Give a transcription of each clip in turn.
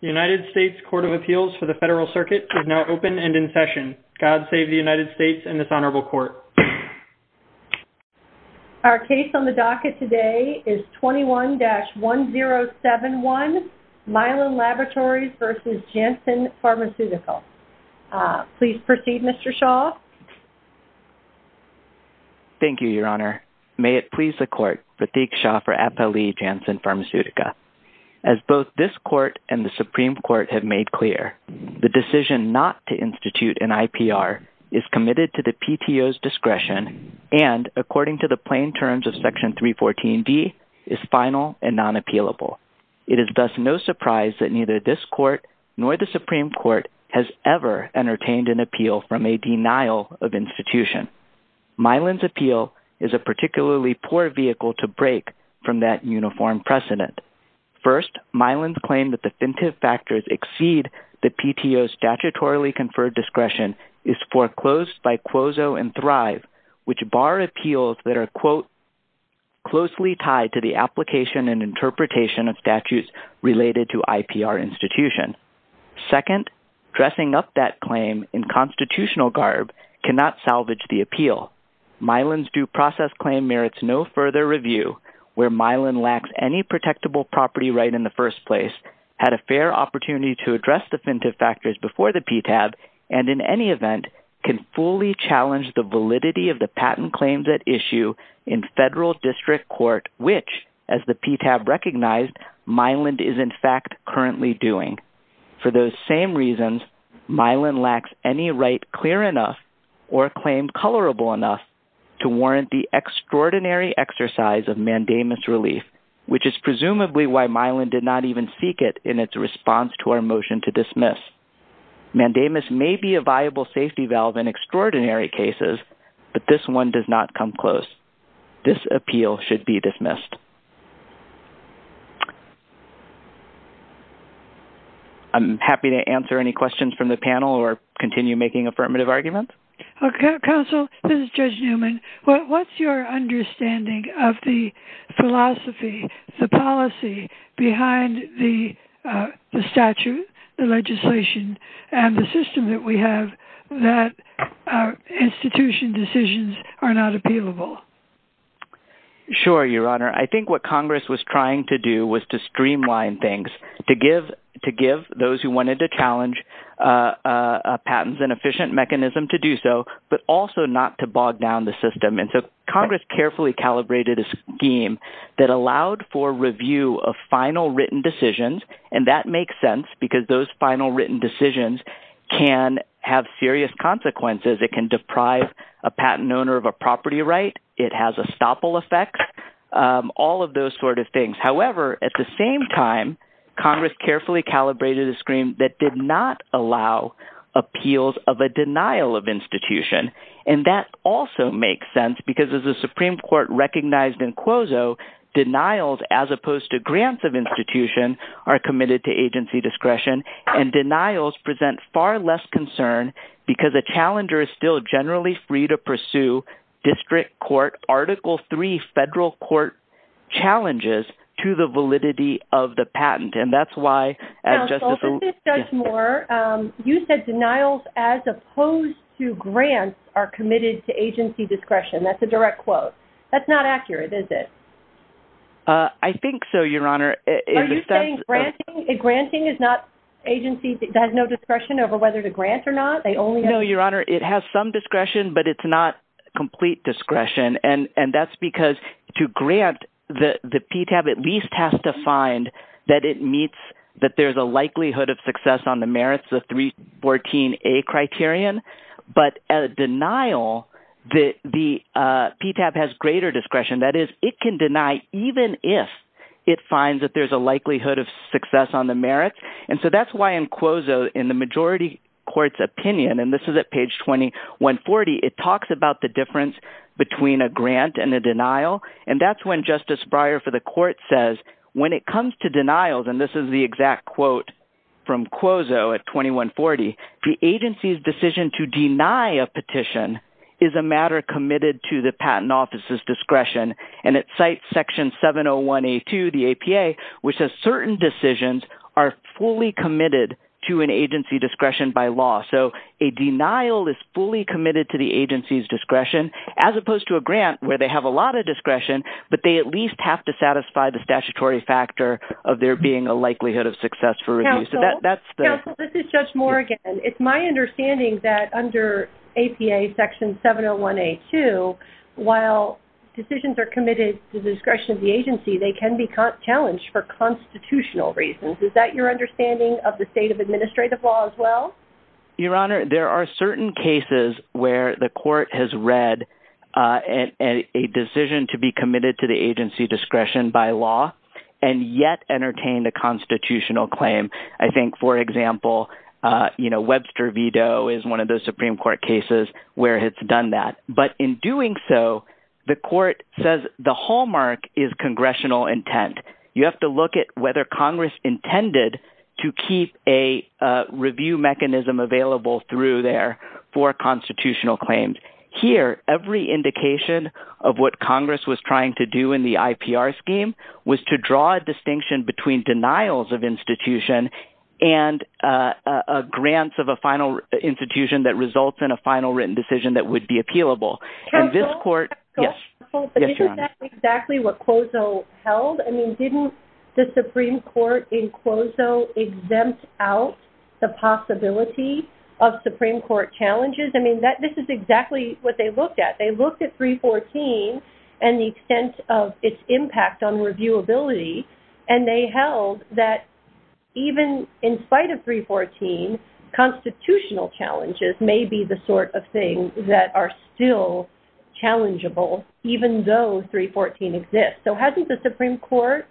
The United States Court of Appeals for the Federal Circuit is now open and in session. God save the United States and this Honorable Court. Our case on the docket today is 21-1071, Mylan Laboratories v. Janssen Pharmaceutica. Please proceed, Mr. Shaw. Thank you, Your Honor. May it please the Court, Pratik Shaw for Appellee Janssen Pharmaceutica. As both this Court and the Supreme Court have made clear, the decision not to institute an IPR is committed to the PTO's discretion and, according to the plain terms of Section 314D, is final and non-appealable. It is thus no surprise that neither this Court nor the Supreme Court has ever entertained an appeal from a denial of institution. Mylan's appeal is a particularly poor vehicle to break from that uniform precedent. First, Mylan's claim that definitive factors exceed the PTO's statutorily conferred discretion is foreclosed by Quozo and Thrive, which bar appeals that are quote, closely tied to the application and interpretation of statutes related to IPR institution. Second, dressing up that claim in constitutional garb cannot salvage the appeal. Mylan's due process claim merits no further review, where Mylan lacks any protectable property right in the first place, had a fair opportunity to address definitive factors before the PTAB, and in any event, can fully challenge the validity of the patent claims at issue in federal district court, which, as the PTAB recognized, Mylan is in fact currently doing. For those same reasons, Mylan lacks any right clear enough or claim colorable enough to warrant the extraordinary exercise of mandamus relief, which is presumably why Mylan did not even seek it in its response to our motion to dismiss. Mandamus may be a viable safety valve in extraordinary cases, but this one does not come close. This appeal should be dismissed. I'm happy to answer any questions from the panel or continue making affirmative arguments. Counsel, this is Judge Newman. What's your understanding of the philosophy, the policy behind the statute, the legislation, and the system that we have that institution decisions are not appealable? Sure, Your Honor. I think what Congress was trying to do was to streamline things, to give those who wanted to challenge patents an efficient mechanism to do so, but also not to bog down the system. And so Congress carefully calibrated a scheme that allowed for review of final written decisions, and that makes sense because those final written decisions can have serious consequences. It can deprive a patent owner of a property right. It has a stopple effect, all of those sort of things. However, at the same time, Congress carefully calibrated a scheme that did not allow appeals of a denial of institution, and that also makes sense because as the Supreme Court recognized in Quozo, denials as opposed to grants of institution are committed to agency discretion, and denials present far less concern because a challenger is still generally free to pursue district court, Article III federal court challenges to the validity of the patent. And that's why, as Justice – Counsel, this is Judge Moore. You said denials as opposed to grants are committed to agency discretion. That's a direct quote. That's not accurate, is it? I think so, Your Honor. Are you saying granting is not agency – has no discretion over whether to grant or not? No, Your Honor. It has some discretion, but it's not complete discretion, and that's because to grant, the PTAB at least has to find that it meets – that there's a likelihood of success on the merits of 314A criterion, but a denial, the PTAB has greater discretion. That is, it can deny even if it finds that there's a likelihood of success on the merits, and so that's why in Quozo, in the majority court's opinion, and this is at page 2140, it talks about the difference between a grant and a denial, and that's when Justice Breyer for the court says when it comes to denials, and this is the exact quote from Quozo at 2140, the agency's decision to deny a petition is a matter committed to the patent office's discretion, and it cites Section 701A2, the APA, which says certain decisions are fully committed to an agency discretion by law. So a denial is fully committed to the agency's discretion as opposed to a grant where they have a lot of discretion, but they at least have to satisfy the statutory factor of there being a likelihood of success. Counsel, this is Judge Morgan. It's my understanding that under APA Section 701A2, while decisions are committed to the discretion of the agency, they can be challenged for constitutional reasons. Is that your understanding of the state of administrative law as well? Your Honor, there are certain cases where the court has read a decision to be committed to the agency's discretion by law and yet entertained a constitutional claim. I think, for example, Webster v. Doe is one of those Supreme Court cases where it's done that. But in doing so, the court says the hallmark is congressional intent. You have to look at whether Congress intended to keep a review mechanism available through there for constitutional claims. Here, every indication of what Congress was trying to do in the IPR scheme was to draw a distinction between denials of institution and grants of a final institution that results in a final written decision that would be appealable. Counsel, isn't that exactly what COSO held? Didn't the Supreme Court in COSO exempt out the possibility of Supreme Court challenges? I mean, this is exactly what they looked at. They looked at 314 and the extent of its impact on reviewability, and they held that even in spite of 314, constitutional challenges may be the sort of thing that are still challengeable even though 314 exists. So hasn't the Supreme Court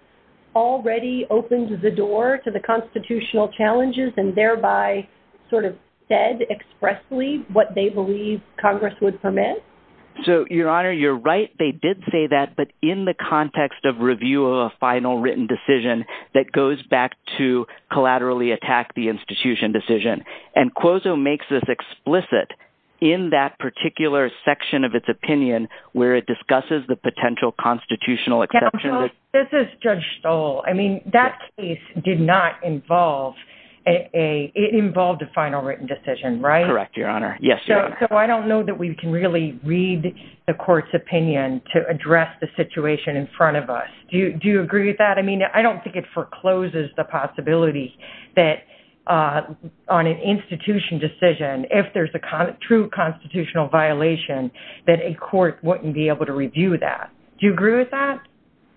already opened the door to the constitutional challenges and thereby sort of said expressly what they believe Congress would permit? So, Your Honor, you're right. They did say that, but in the context of review of a final written decision that goes back to collaterally attack the institution decision. And COSO makes this explicit in that particular section of its opinion where it discusses the potential constitutional exception. Counsel, this is Judge Stoll. I mean, that case did not involve a—it involved a final written decision, right? Correct, Your Honor. Yes, Your Honor. So I don't know that we can really read the court's opinion to address the situation in front of us. Do you agree with that? I mean, I don't think it forecloses the possibility that on an institution decision, if there's a true constitutional violation, that a court wouldn't be able to review that. Do you agree with that?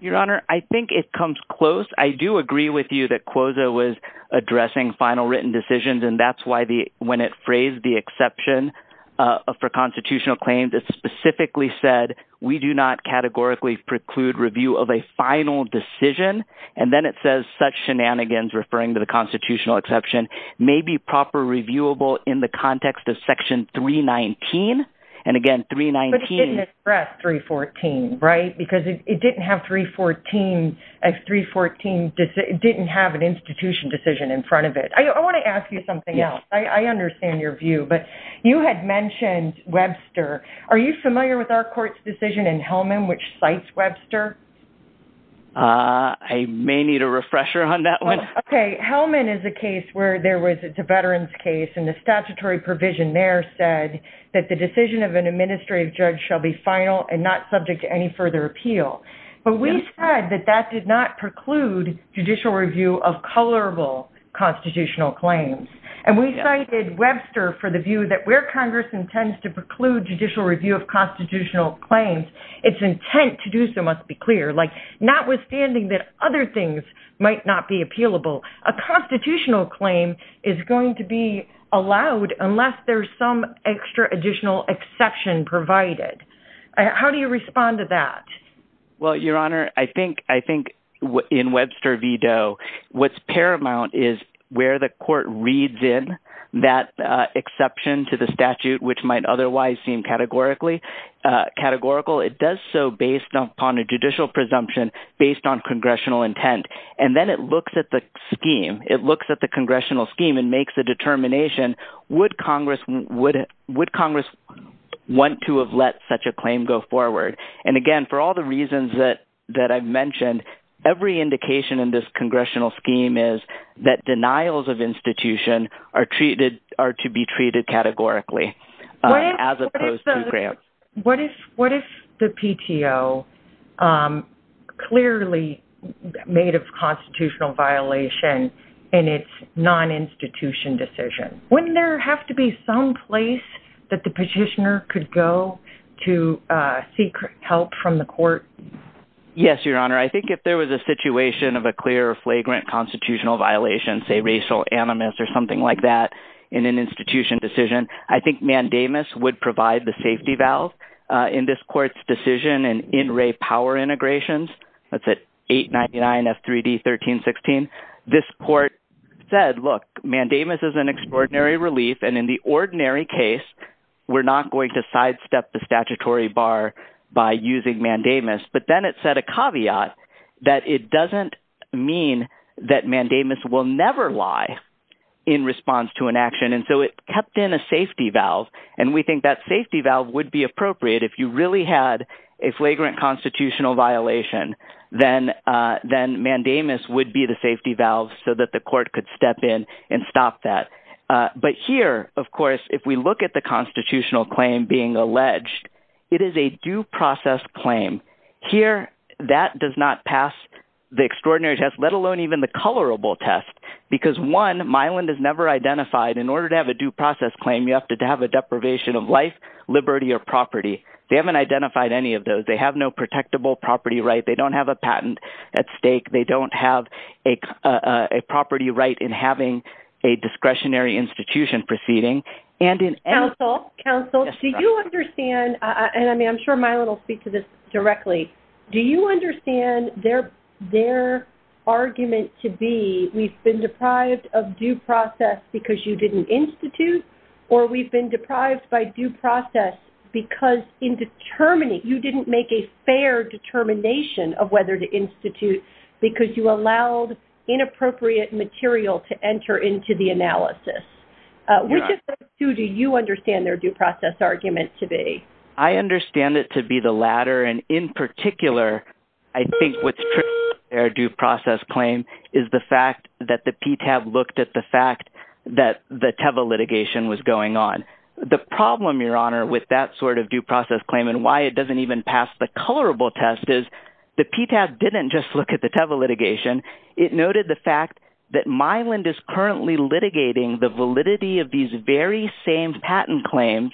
Your Honor, I think it comes close. I do agree with you that COSO was addressing final written decisions, and that's why when it phrased the exception for constitutional claims, it specifically said we do not categorically preclude review of a final decision. And then it says such shenanigans, referring to the constitutional exception, may be proper reviewable in the context of Section 319. And again, 319— But it didn't address 314, right? Because it didn't have 314—314 didn't have an institution decision in front of it. I want to ask you something else. I understand your view, but you had mentioned Webster. Are you familiar with our court's decision in Hellman, which cites Webster? I may need a refresher on that one. Okay, Hellman is a case where there was—it's a veterans case, and the statutory provision there said that the decision of an administrative judge shall be final and not subject to any further appeal. But we said that that did not preclude judicial review of colorable constitutional claims. And we cited Webster for the view that where Congress intends to preclude judicial review of constitutional claims, its intent to do so must be clear. Like, notwithstanding that other things might not be appealable, a constitutional claim is going to be allowed unless there's some extra additional exception provided. How do you respond to that? Well, Your Honor, I think in Webster v. Doe, what's paramount is where the court reads in that exception to the statute, which might otherwise seem categorical, it does so based upon a judicial presumption based on congressional intent. And then it looks at the scheme. It looks at the congressional scheme and makes a determination, would Congress want to have let such a claim go forward? And, again, for all the reasons that I've mentioned, every indication in this congressional scheme is that denials of institution are to be treated categorically as opposed to grants. What if the PTO clearly made a constitutional violation in its non-institution decision? Wouldn't there have to be some place that the petitioner could go to seek help from the court? Yes, Your Honor, I think if there was a situation of a clear, flagrant constitutional violation, say racial animus or something like that in an institution decision, I think mandamus would provide the safety valve in this court's decision and in-ray power integrations. That's at 899 F3D 1316. This court said, look, mandamus is an extraordinary relief. And in the ordinary case, we're not going to sidestep the statutory bar by using mandamus. But then it said a caveat that it doesn't mean that mandamus will never lie in response to an action. And so it kept in a safety valve. And we think that safety valve would be appropriate. If you really had a flagrant constitutional violation, then mandamus would be the safety valve so that the court could step in and stop that. But here, of course, if we look at the constitutional claim being alleged, it is a due process claim. Here, that does not pass the extraordinary test, let alone even the colorable test, because, one, Milan is never identified. In order to have a due process claim, you have to have a deprivation of life, liberty, or property. They haven't identified any of those. They have no protectable property right. They don't have a patent at stake. They don't have a property right in having a discretionary institution proceeding. Counsel, do you understand, and I'm sure Milan will speak to this directly, do you understand their argument to be we've been deprived of due process because you didn't institute, or we've been deprived by due process because you didn't make a fair determination of whether to institute because you allowed inappropriate material to enter into the analysis? Which of those two do you understand their due process argument to be? I understand it to be the latter, and in particular, I think what's true about their due process claim is the fact that the PTAB looked at the fact that the Teva litigation was going on. The problem, Your Honor, with that sort of due process claim and why it doesn't even pass the colorable test is the PTAB didn't just look at the Teva litigation. It noted the fact that Milan is currently litigating the validity of these very same patent claims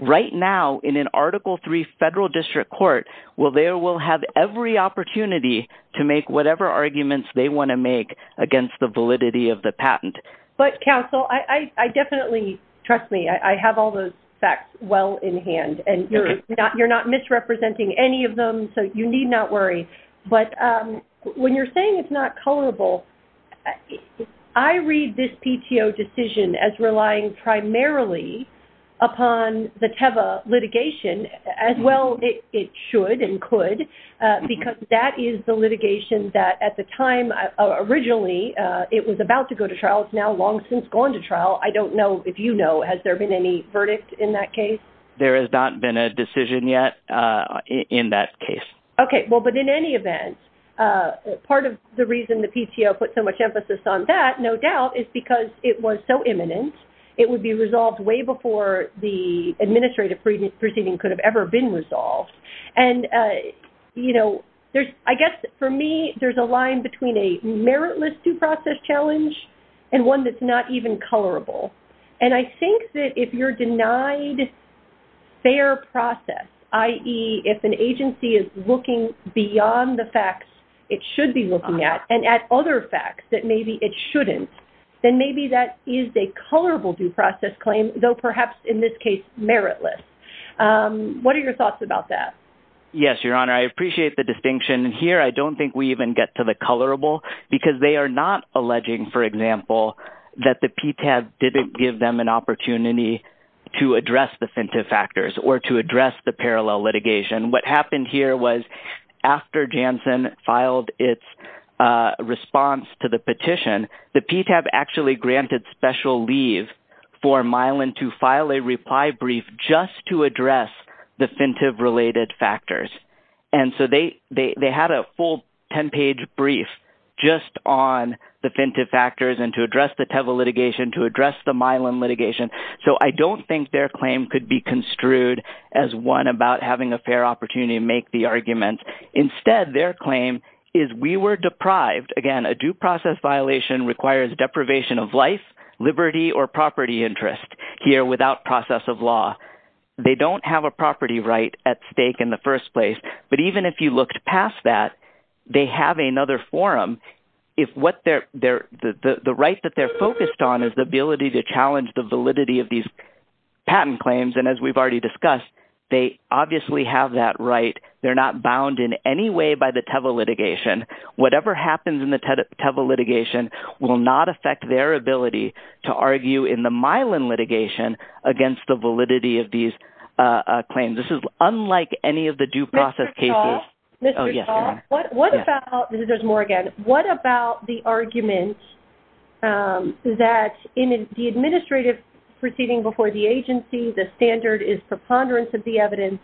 right now in an Article III federal district court where they will have every opportunity to make whatever arguments they want to make against the validity of the patent. But, counsel, I definitely, trust me, I have all those facts well in hand, and you're not misrepresenting any of them, so you need not worry. But when you're saying it's not colorable, I read this PTO decision as relying primarily upon the Teva litigation as well it should and could because that is the litigation that at the time originally it was about to go to trial. It's now long since gone to trial. I don't know if you know. Has there been any verdict in that case? There has not been a decision yet in that case. Okay. Well, but in any event, part of the reason the PTO put so much emphasis on that, no doubt, is because it was so imminent. It would be resolved way before the administrative proceeding could have ever been resolved. And, you know, I guess for me there's a line between a meritless due process challenge and one that's not even colorable. And I think that if you're denied fair process, i.e., if an agency is looking beyond the facts it should be looking at and at other facts that maybe it shouldn't, then maybe that is a colorable due process claim, though perhaps in this case meritless. What are your thoughts about that? Yes, Your Honor, I appreciate the distinction. Here I don't think we even get to the colorable because they are not alleging, for example, that the PTAB didn't give them an opportunity to address the fintive factors or to address the parallel litigation. What happened here was after Janssen filed its response to the petition, the PTAB actually granted special leave for Milan to file a reply brief just to address the fintive-related factors. And so they had a full 10-page brief just on the fintive factors and to address the Teva litigation, to address the Milan litigation. So I don't think their claim could be construed as one about having a fair opportunity to make the argument. Instead, their claim is we were deprived. Again, a due process violation requires deprivation of life, liberty, or property interest here without process of law. They don't have a property right at stake in the first place. But even if you looked past that, they have another forum. The right that they're focused on is the ability to challenge the validity of these patent claims. And as we've already discussed, they obviously have that right. They're not bound in any way by the Teva litigation. Whatever happens in the Teva litigation will not affect their ability to argue in the Milan litigation against the validity of these claims. This is unlike any of the due process cases. Mr. Paul. Oh, yes. Mr. Paul, what about the argument that in the administrative proceeding before the agency, the standard is preponderance of the evidence,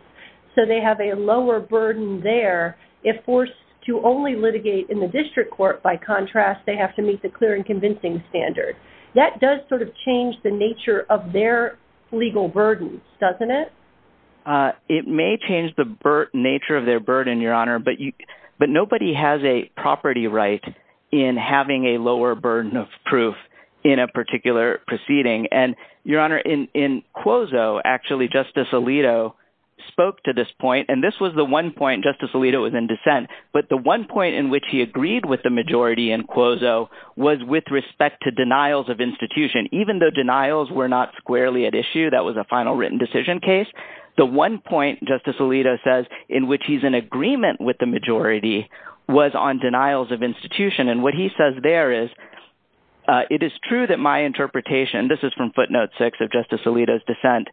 so they have a lower burden there. If forced to only litigate in the district court, by contrast, they have to meet the clear and convincing standard. That does sort of change the nature of their legal burden, doesn't it? It may change the nature of their burden, Your Honor. But nobody has a property right in having a lower burden of proof in a particular proceeding. And, Your Honor, in Quozo, actually, Justice Alito spoke to this point. And this was the one point Justice Alito was in dissent. But the one point in which he agreed with the majority in Quozo was with respect to denials of institution. Even though denials were not squarely at issue, that was a final written decision case, the one point, Justice Alito says, in which he's in agreement with the majority was on denials of institution. And what he says there is, it is true that my interpretation, this is from footnote six of Justice Alito's dissent,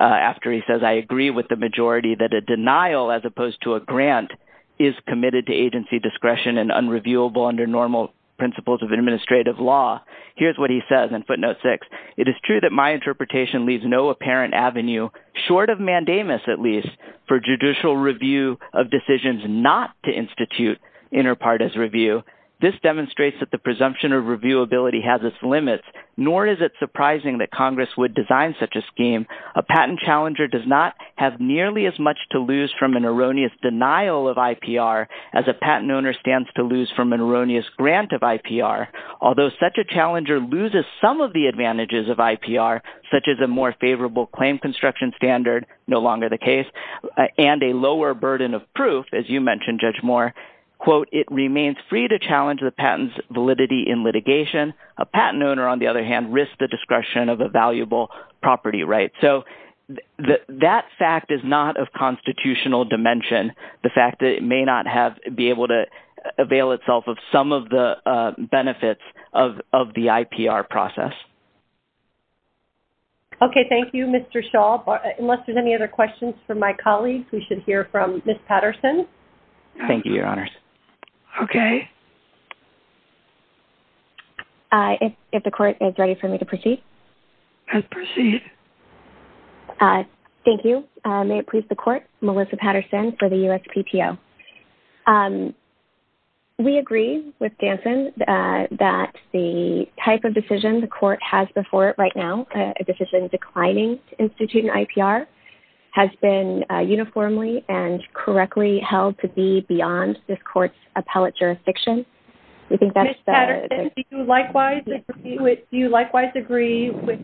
after he says, I agree with the majority that a denial as opposed to a grant is committed to agency discretion and unreviewable under normal principles of administrative law. Here's what he says in footnote six. It is true that my interpretation leaves no apparent avenue, short of mandamus at least, for judicial review of decisions not to institute inter partes review. This demonstrates that the presumption of reviewability has its limits, nor is it surprising that Congress would design such a scheme. A patent challenger does not have nearly as much to lose from an erroneous denial of IPR as a patent owner stands to lose from an erroneous grant of IPR. Although such a challenger loses some of the advantages of IPR, such as a more favorable claim construction standard, no longer the case, and a lower burden of proof, as you mentioned, Judge Moore, quote, it remains free to challenge the patent's validity in litigation. A patent owner, on the other hand, risks the discretion of a valuable property right. So that fact is not of constitutional dimension, the fact that it may not be able to avail itself of some of the benefits of the IPR process. Okay, thank you, Mr. Shaw. Unless there's any other questions for my colleagues, we should hear from Ms. Patterson. Thank you, Your Honors. Okay. If the Court is ready for me to proceed. Proceed. Thank you. May it please the Court, Melissa Patterson for the USPTO. We agree with Danson that the type of decision the Court has before it right now, a decision declining to institute an IPR, has been uniformly and correctly held to be beyond this Court's appellate jurisdiction. Ms. Patterson, do you likewise agree with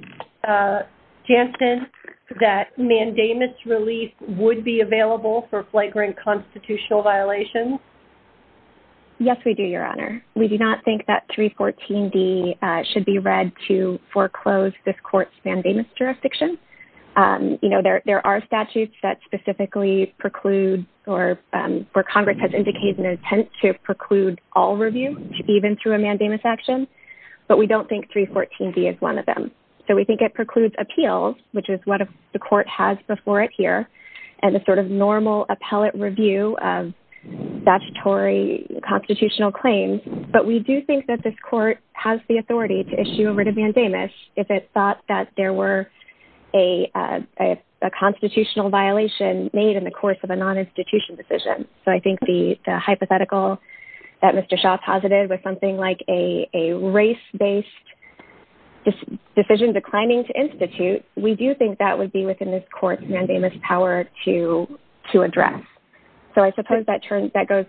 Danson that mandamus relief would be available for flagrant constitutional violations? Yes, we do, Your Honor. We do not think that 314D should be read to foreclose this Court's mandamus jurisdiction. You know, there are statutes that specifically preclude, or where Congress has indicated an intent to preclude all review, even through a mandamus action, but we don't think 314D is one of them. So we think it precludes appeals, which is what the Court has before it here, and the sort of normal appellate review of statutory constitutional claims. But we do think that this Court has the authority to issue a writ of mandamus if it thought that there were a constitutional violation made in the course of a non-institutional decision. So I think the hypothetical that Mr. Shaw posited we do think that would be within this Court's mandamus power to address. So I suppose that goes...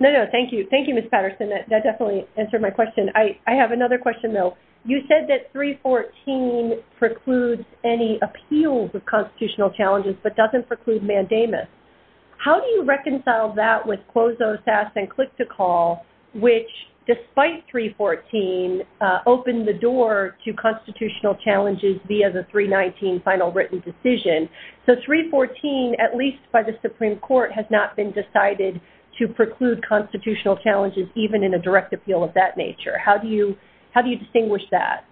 No, no, thank you. Thank you, Ms. Patterson. That definitely answered my question. I have another question, though. You said that 314 precludes any appeals of constitutional challenges but doesn't preclude mandamus. How do you reconcile that with CLOSO, SAS, and CLICK to Call, which, despite 314, opened the door to constitutional challenges via the 319 final written decision? So 314, at least by the Supreme Court, has not been decided to preclude constitutional challenges even in a direct appeal of that nature. How do you distinguish that?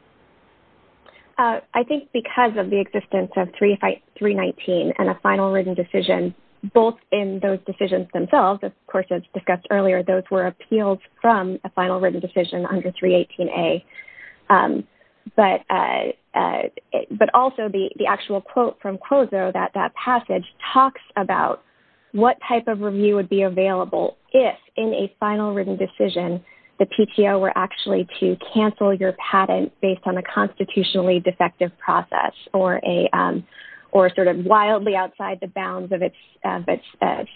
I think because of the existence of 319 and a final written decision, both in those decisions themselves, of course, as discussed earlier, those were appealed from a final written decision under 318A. But also the actual quote from CLOSO, that passage, talks about what type of review would be available if in a final written decision the PTO were actually to cancel your patent based on a constitutionally defective process or sort of wildly outside the bounds of its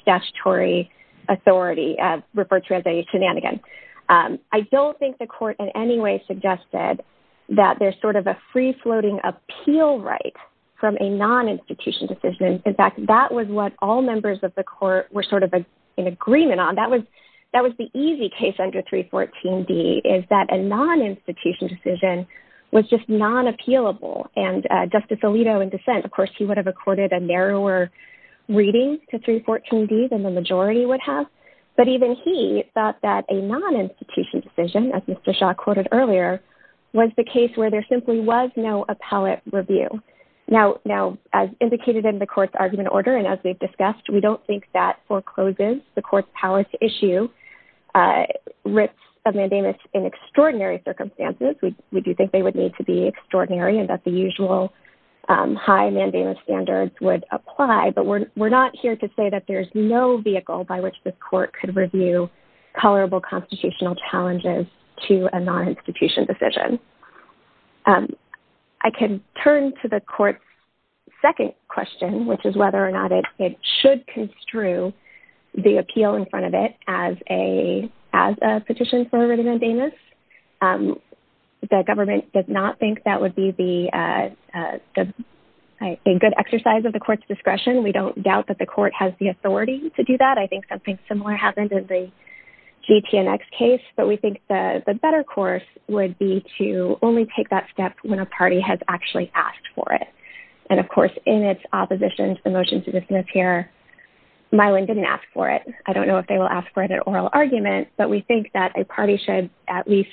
statutory authority referred to as a shenanigan. I don't think the court in any way suggested that there's sort of a free-floating appeal right from a non-institution decision. In fact, that was what all members of the court were sort of in agreement on. That was the easy case under 314D, is that a non-institution decision was just non-appealable. And Justice Alito, in dissent, of course, he would have accorded a narrower reading to 314D than the majority would have. But even he thought that a non-institution decision, as Mr. Shaw quoted earlier, was the case where there simply was no appellate review. Now, as indicated in the court's argument order, and as we've discussed, we don't think that foreclosures, the court's power to issue writs of mandamus in extraordinary circumstances, we do think they would need to be extraordinary and that the usual high mandamus standards would apply. But we're not here to say that there's no vehicle by which the court could review tolerable constitutional challenges to a non-institution decision. I can turn to the court's second question, which is whether or not it should construe the appeal in front of it as a petition for a written mandamus. The government does not think that would be the good exercise because of the court's discretion. We don't doubt that the court has the authority to do that. I think something similar happened in the JPNX case. But we think the better course would be to only take that step when a party has actually asked for it. And, of course, in its opposition to the motion to dismiss here, Mylan didn't ask for it. I don't know if they will ask for it in their oral argument, but we think that a party should at least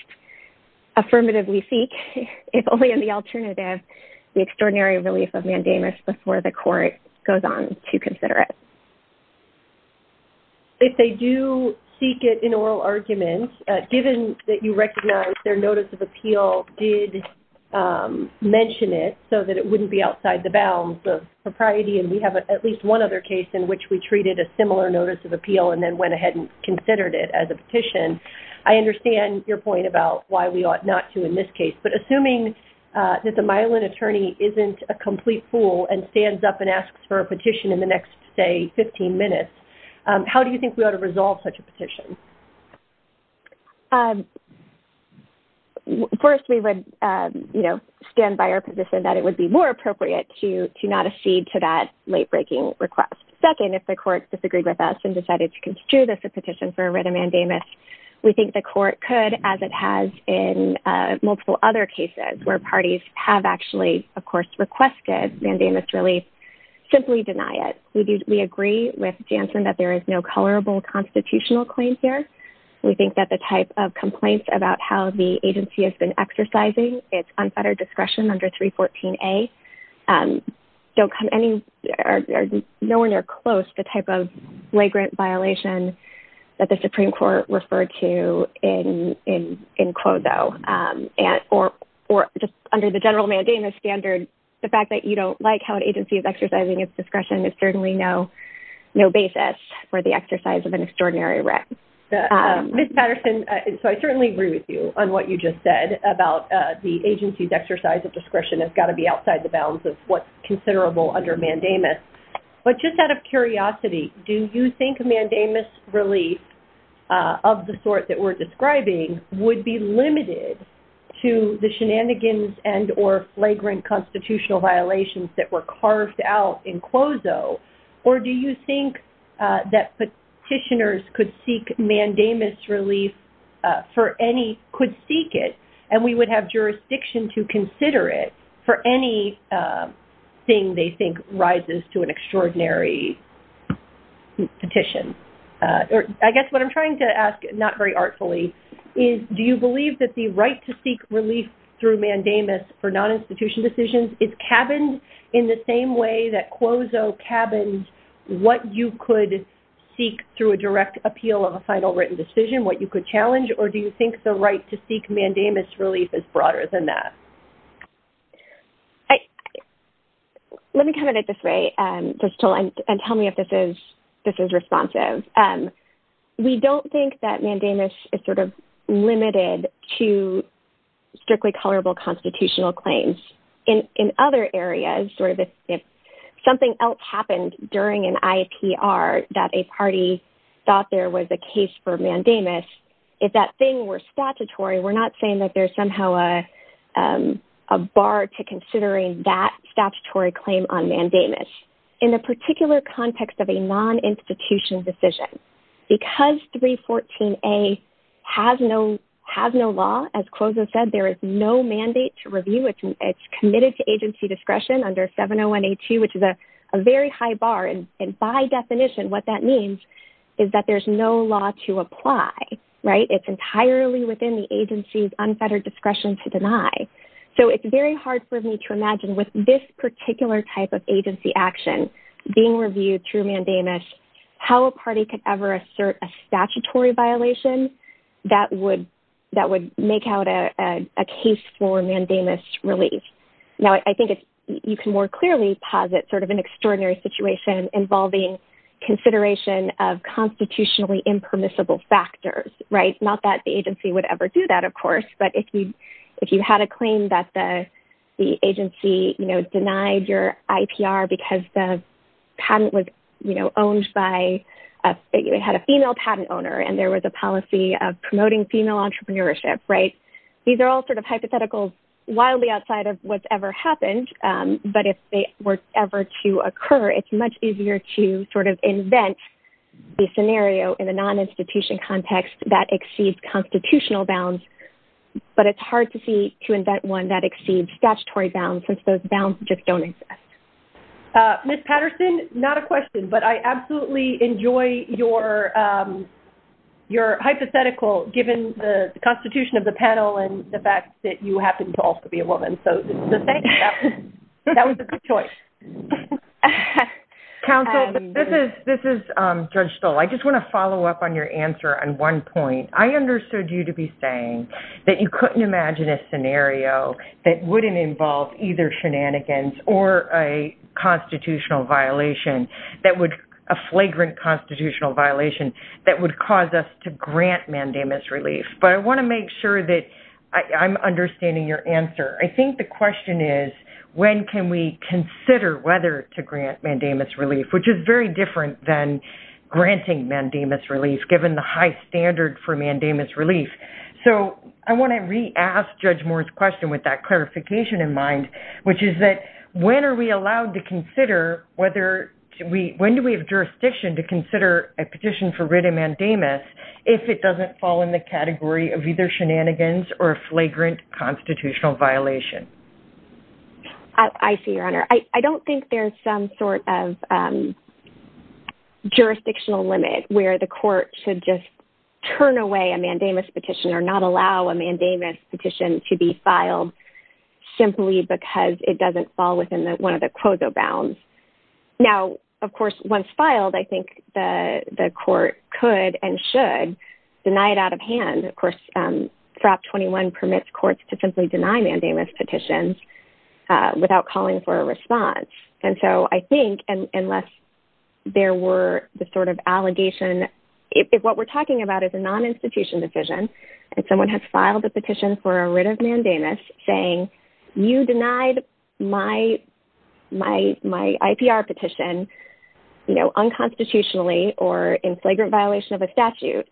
affirmatively seek, if only as the alternative, the extraordinary relief of mandamus before the court goes on to consider it. If they do seek it in oral argument, given that you recognize their notice of appeal did mention it so that it wouldn't be outside the bounds of propriety and we have at least one other case in which we treated a similar notice of appeal and then went ahead and considered it as a petition, I understand your point about why we ought not to in this case. But assuming that the Mylan attorney isn't a complete fool and stands up and asks for a petition in the next, say, 15 minutes, how do you think we ought to resolve such a petition? First, we would stand by our position that it would be more appropriate to not accede to that late-breaking request. Second, if the court disagrees with us and decided to constitute us a petition for a written mandamus, we think the court could, as it has in multiple other cases where parties have actually, of course, requested mandamus relief, simply deny it. We agree with Jansen that there is no colorable constitutional claim here. We think that the type of complaints about how the agency has been exercising its unfettered discretion under 314A don't come any, no one near close to the type of flagrant violation that the Supreme Court referred to in Quovo. Or just under the general mandamus standard, the fact that you don't like how an agency is exercising its discretion is certainly no basis for the exercise of an extraordinary right. Ms. Patterson, so I certainly agree with you on what you just said about the agency's exercise of discretion has got to be outside the bounds of what's considerable under mandamus. But just out of curiosity, do you think mandamus relief of the sort that we're describing would be limited to the shenanigans and or flagrant constitutional violations that were carved out in Quovo? Or do you think that petitioners could seek mandamus relief for any, could seek it, and we would have jurisdiction to consider it for anything they think rises to an extraordinary petition? I guess what I'm trying to ask, not very artfully, is do you believe that the right to seek relief through mandamus for non-institution decisions is cabined in the same way that Quovo cabined what you could seek through a direct appeal of a final written decision, what you could challenge? Or do you think the right to seek mandamus relief is broader than that? Let me come at it this way, and tell me if this is responsive. We don't think that mandamus is sort of limited to strictly colorable constitutional claims. In other areas, sort of if something else happened during an IPR that a party thought there was a case for mandamus, if that thing were statutory, we're not saying that there's somehow a bar to considering that statutory claim on mandamus. In the particular context of a non-institution decision, because 314A has no law, as Quovo said, there is no mandate to review it. It's committed to agency discretion under 701A2, which is a very high bar. And by definition, what that means is that there's no law to apply. It's entirely within the agency's unfettered discretion to deny. So it's very hard for me to imagine with this particular type of agency action being reviewed through mandamus, how a party could ever assert a statutory violation that would make out a case for mandamus relief. Now, I think you can more clearly posit sort of an extraordinary situation involving consideration of constitutionally impermissible factors. Not that the agency would ever do that, of course, but if you had a claim that the agency denied your IPR because the patent was owned by a female patent owner and there was a policy of promoting female entrepreneurship. These are all sort of hypotheticals wildly outside of what's ever happened, but if they were ever to occur, it's much easier to sort of invent a scenario in a non-institution context that exceeds constitutional bounds, but it's hard to see to invent one that exceeds statutory bounds since those bounds just don't exist. Ms. Patterson, not a question, but I absolutely enjoy your hypothetical, given the constitution of the panel and the fact that you happen to also be a woman. So thank you. That was a good choice. Counsel, this is Judge Stoll. I just want to follow up on your answer on one point. I understood you to be saying that you couldn't imagine a scenario that wouldn't involve either shenanigans or a constitutional violation, a flagrant constitutional violation that would cause us to grant mandamus relief, but I want to make sure that I'm understanding your answer. I think the question is when can we consider whether to grant mandamus relief, which is very different than granting mandamus relief, given the high standard for mandamus relief. So I want to re-ask Judge Moore's question with that clarification in mind, which is that when are we allowed to consider, when do we have jurisdiction to consider a petition for writ of mandamus if it doesn't fall in the category of either shenanigans or a flagrant constitutional violation? I see, Your Honor. I don't think there's some sort of jurisdictional limit where the court should just turn away a mandamus petition or not allow a mandamus petition to be filed simply because it doesn't fall within one of the quoso bounds. Now, of course, once filed, I think the court could and should deny it out of hand. Of course, Prop 21 permits courts to simply deny mandamus petitions without calling for a response. And so I think unless there were the sort of allegation, if what we're talking about is a non-institution decision and someone has filed a petition for a writ of mandamus saying, you denied my IPR petition unconstitutionally or in flagrant violation of a statute,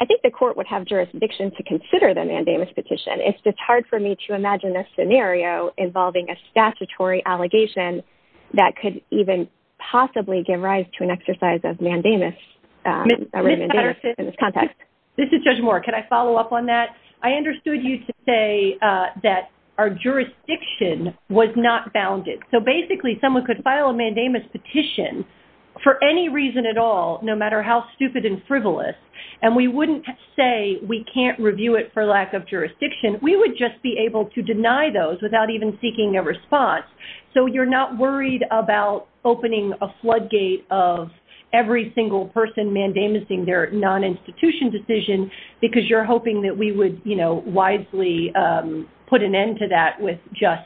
I think the court would have jurisdiction to consider the mandamus petition. It's just hard for me to imagine a scenario involving a statutory allegation that could even possibly give rise to an exercise of mandamus in this context. This is Judge Moore. Can I follow up on that? I understood you to say that our jurisdiction was not bounded. So basically someone could file a mandamus petition for any reason at all, no matter how stupid and frivolous, and we wouldn't say we can't review it for lack of jurisdiction. We would just be able to deny those without even seeking a response. So you're not worried about opening a floodgate of every single person mandamus-ing their non-institution decision, because you're hoping that we would wisely put an end to that with just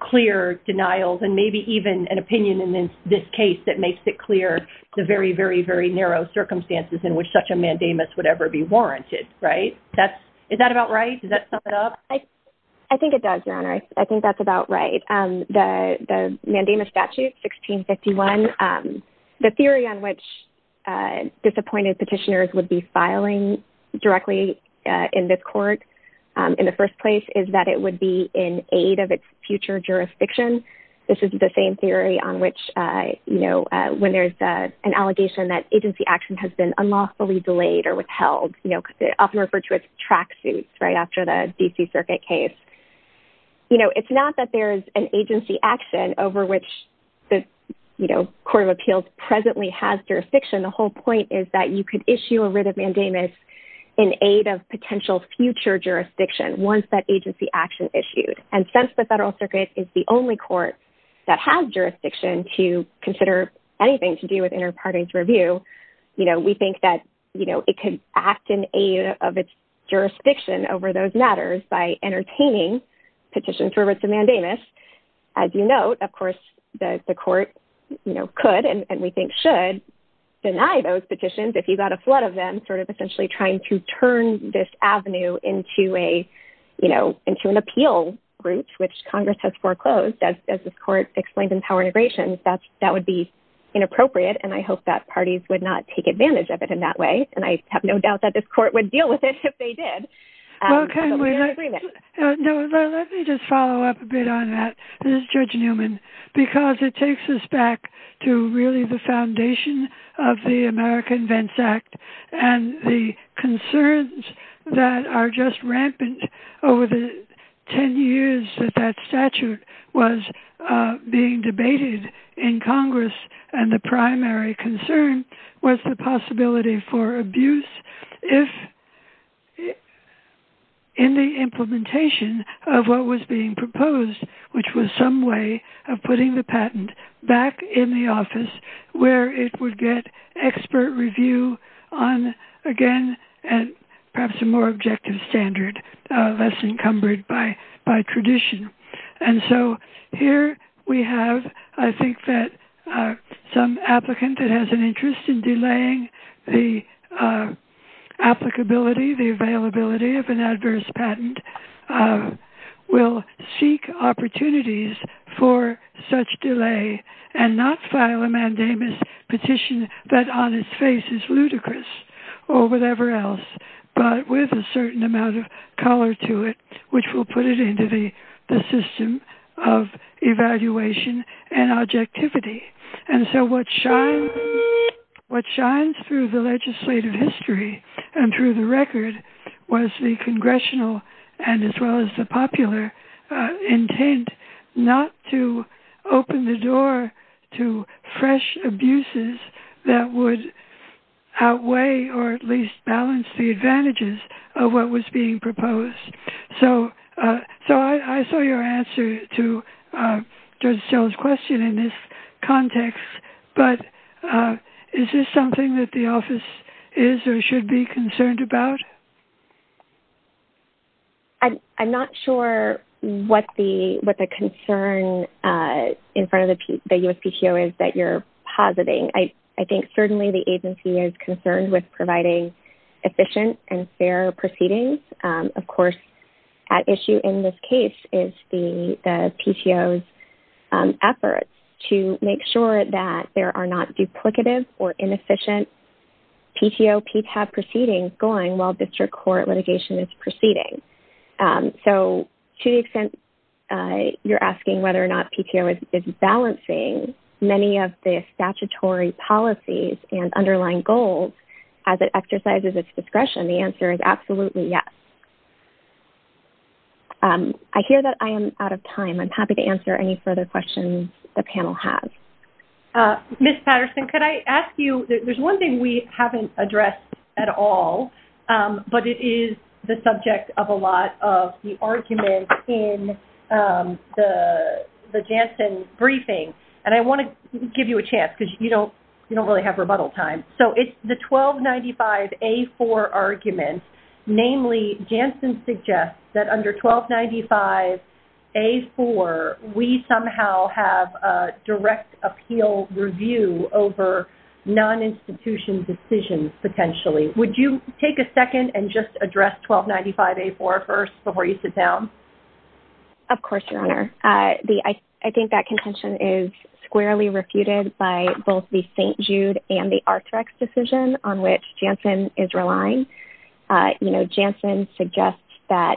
clear denials and maybe even an opinion in this case that makes it clear the very, very, very narrow circumstances in which such a mandamus would ever be warranted. Is that about right? Does that sum it up? I think it does, Your Honor. I think that's about right. The mandamus statute, 1651, the theory on which disappointed petitioners would be filing directly in this court in the first place is that it would be in aid of its future jurisdiction. This is the same theory on which, you know, when there's an allegation that agency action has been unlawfully delayed or withheld, you know, because they often refer to it as track suits, right, after the D.C. Circuit case. You know, it's not that there's an agency action over which the, you know, Court of Appeals presently has jurisdiction. The whole point is that you could issue a writ of mandamus in aid of potential future jurisdiction once that agency action issued. And since the Federal Circuit is the only court that has jurisdiction to consider anything to do with interparting's review, you know, we think that, you know, it could act in aid of its jurisdiction over those matters by entertaining petitions for writs of mandamus. As you note, of course, the court, you know, could, and we think should, deny those petitions if you got a flood of them, sort of essentially trying to turn this avenue into a, you know, into an appeal route, which Congress has foreclosed, as this court explained in power integration. That would be inappropriate, and I hope that parties would not take advantage of it in that way, and I have no doubt that this court would deal with it if they did. Okay, let me just follow up a bit on that, Judge Newman, because it takes us back to really the foundation of the American Vents Act and the concerns that are just rampant over the 10 years that that statute was being debated in Congress, and the primary concern was the possibility for abuse if in the implementation of what was being proposed, which was some way of putting the patent back in the office where it would get expert review on, again, perhaps a more objective standard, less encumbered by tradition. And so here we have, I think, that some applicant that has an interest in delaying the applicability, the availability of an adverse patent, will seek opportunities for such delay and not file a mandamus petition that on its face is ludicrous or whatever else, but with a certain amount of color to it, which will put it into the system of evaluation and objectivity. And so what shines through the legislative history and through the record was the congressional and as well as the popular intent not to open the door to fresh abuses that would outweigh or at least balance the advantages of what was being proposed. So I saw your answer to Joseph's question in this context, but is this something that the office is or should be concerned about? I'm not sure what the concern in front of the USPTO is that you're positing. I think certainly the agency is concerned with providing efficient and fair proceedings. Of course, at issue in this case is the PTO's efforts to make sure that there are not duplicative or inefficient PTO PTAP proceedings going while district court litigation is proceeding. So to the extent you're asking whether or not PTO is balancing many of the statutory policies and underlying goals as it exercises its discretion, the answer is absolutely yes. I hear that I am out of time. I'm happy to answer any further questions the panel has. Ms. Patterson, could I ask you, there's one thing we haven't addressed at all, but it is the subject of a lot of the arguments in the Janssen briefing, and I want to give you a chance because you don't really have rebuttal time. So it's the 1295A4 argument, namely Janssen suggests that under 1295A4, we somehow have a direct appeal review over non-institution decisions potentially. Would you take a second and just address 1295A4 first before you sit down? Of course, Your Honor. I think that contention is squarely refuted by both the St. Jude and the Arthrex decision on which Janssen is relying. You know, Janssen suggests that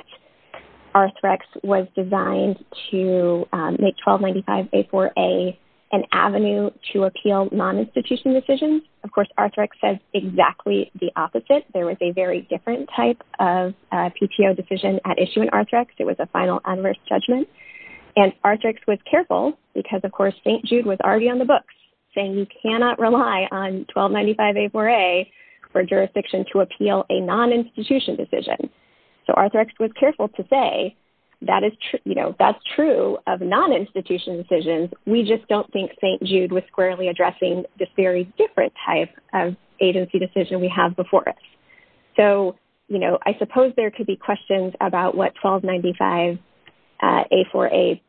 Arthrex was designed to make 1295A4 an avenue to appeal non-institution decisions. Of course, Arthrex says exactly the opposite. There was a very different type of PTO decision at issue in Arthrex. It was a final unrest judgment, and Arthrex was careful because, of course, St. Jude was already on the books saying you cannot rely on 1295A4A for jurisdiction to appeal a non-institution decision. So Arthrex was careful to say that's true of non-institution decisions. We just don't think St. Jude was squarely addressing this very different type of agency decision we have before us. So, you know, I suppose there could be questions about what 1295A4A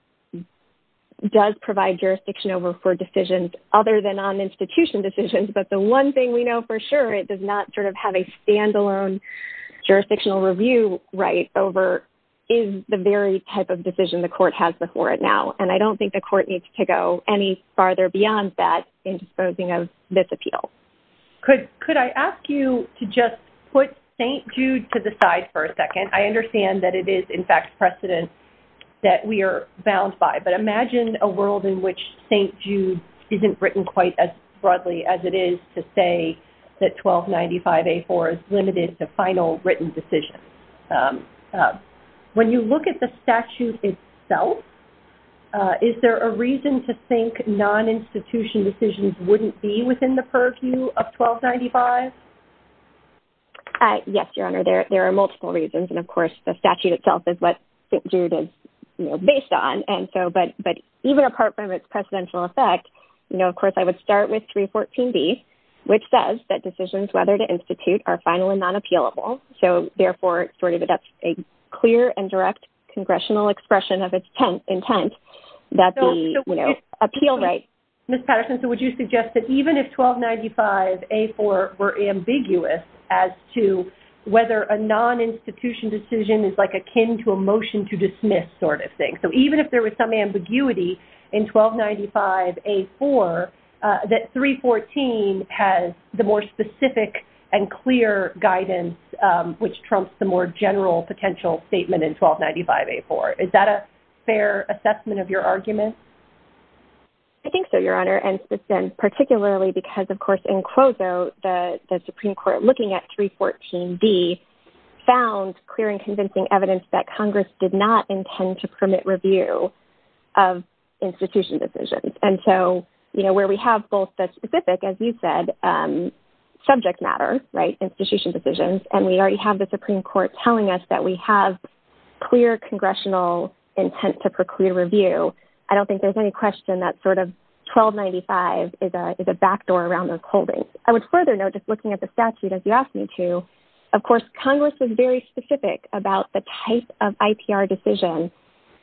does provide jurisdiction over for decisions other than non-institution decisions, but the one thing we know for sure it does not sort of have a stand-alone jurisdictional review right over is the very type of decision the court has before it now, and I don't think the court needs to go any farther beyond that in disposing of this appeal. Could I ask you to just put St. Jude to the side for a second? I understand that it is, in fact, precedent that we are bound by, but imagine a world in which St. Jude isn't written quite as broadly as it is to say that 1295A4 is limited to final written decisions. When you look at the statute itself, is there a reason to think non-institution decisions wouldn't be within the purview of 1295? Yes, Your Honor, there are multiple reasons, and, of course, the statute itself is what St. Jude is based on. But even apart from its precedential effect, you know, of course, I would start with 314B, which says that decisions whether to institute are final and non-appealable, so therefore sort of that's a clear and direct congressional expression of its intent that the appeal rights. Ms. Patterson, so would you suggest that even if 1295A4 were ambiguous as to whether a non-institution decision is like akin to a motion to dismiss sort of thing, so even if there was some ambiguity in 1295A4, that 314 has the more specific and clear guidance which trumps the more general potential statement in 1295A4? Is that a fair assessment of your argument? I think so, Your Honor, and particularly because, of course, in CLOSO, the Supreme Court looking at 314B found clear and convincing evidence that Congress did not intend to permit review of institution decisions. And so, you know, where we have both the specific, as you said, subject matter, right, institution decisions, and we already have the Supreme Court telling us that we have clear congressional intent to preclude review, I don't think there's any question that sort of 1295 is a backdoor around those holdings. I would further note, just looking at the statute, as you asked me to, of course Congress is very specific about the type of IPR decision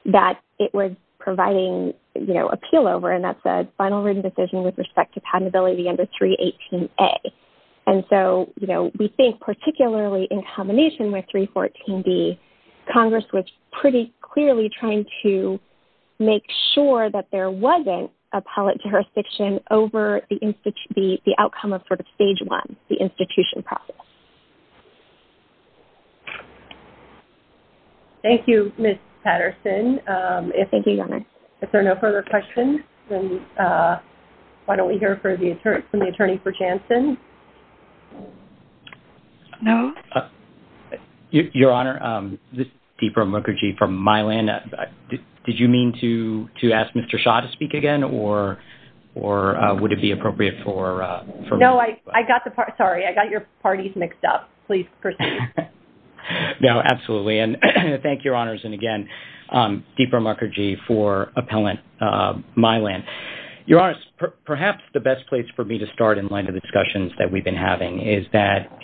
that it was providing, you know, appeal over, and that's a final written decision with respect to patentability under 318A. And so, you know, we think particularly in combination with 314B, Congress was pretty clearly trying to make sure that there wasn't a public jurisdiction over the outcome of sort of stage one, the institution process. Thank you, Ms. Patterson. Thank you, Your Honor. If there are no further questions, then why don't we hear from the attorney for Jansen. No? Your Honor, this is Deepam Mukherjee from Mylan. Did you mean to ask Mr. Shah to speak again, or would it be appropriate for me? No, I got the part, sorry, I got your parties mixed up. Please proceed. No, absolutely. And thank you, Your Honors, and again, Deepam Mukherjee for appellant Mylan. Your Honors, perhaps the best place for me to start in light of discussions that we've been having is that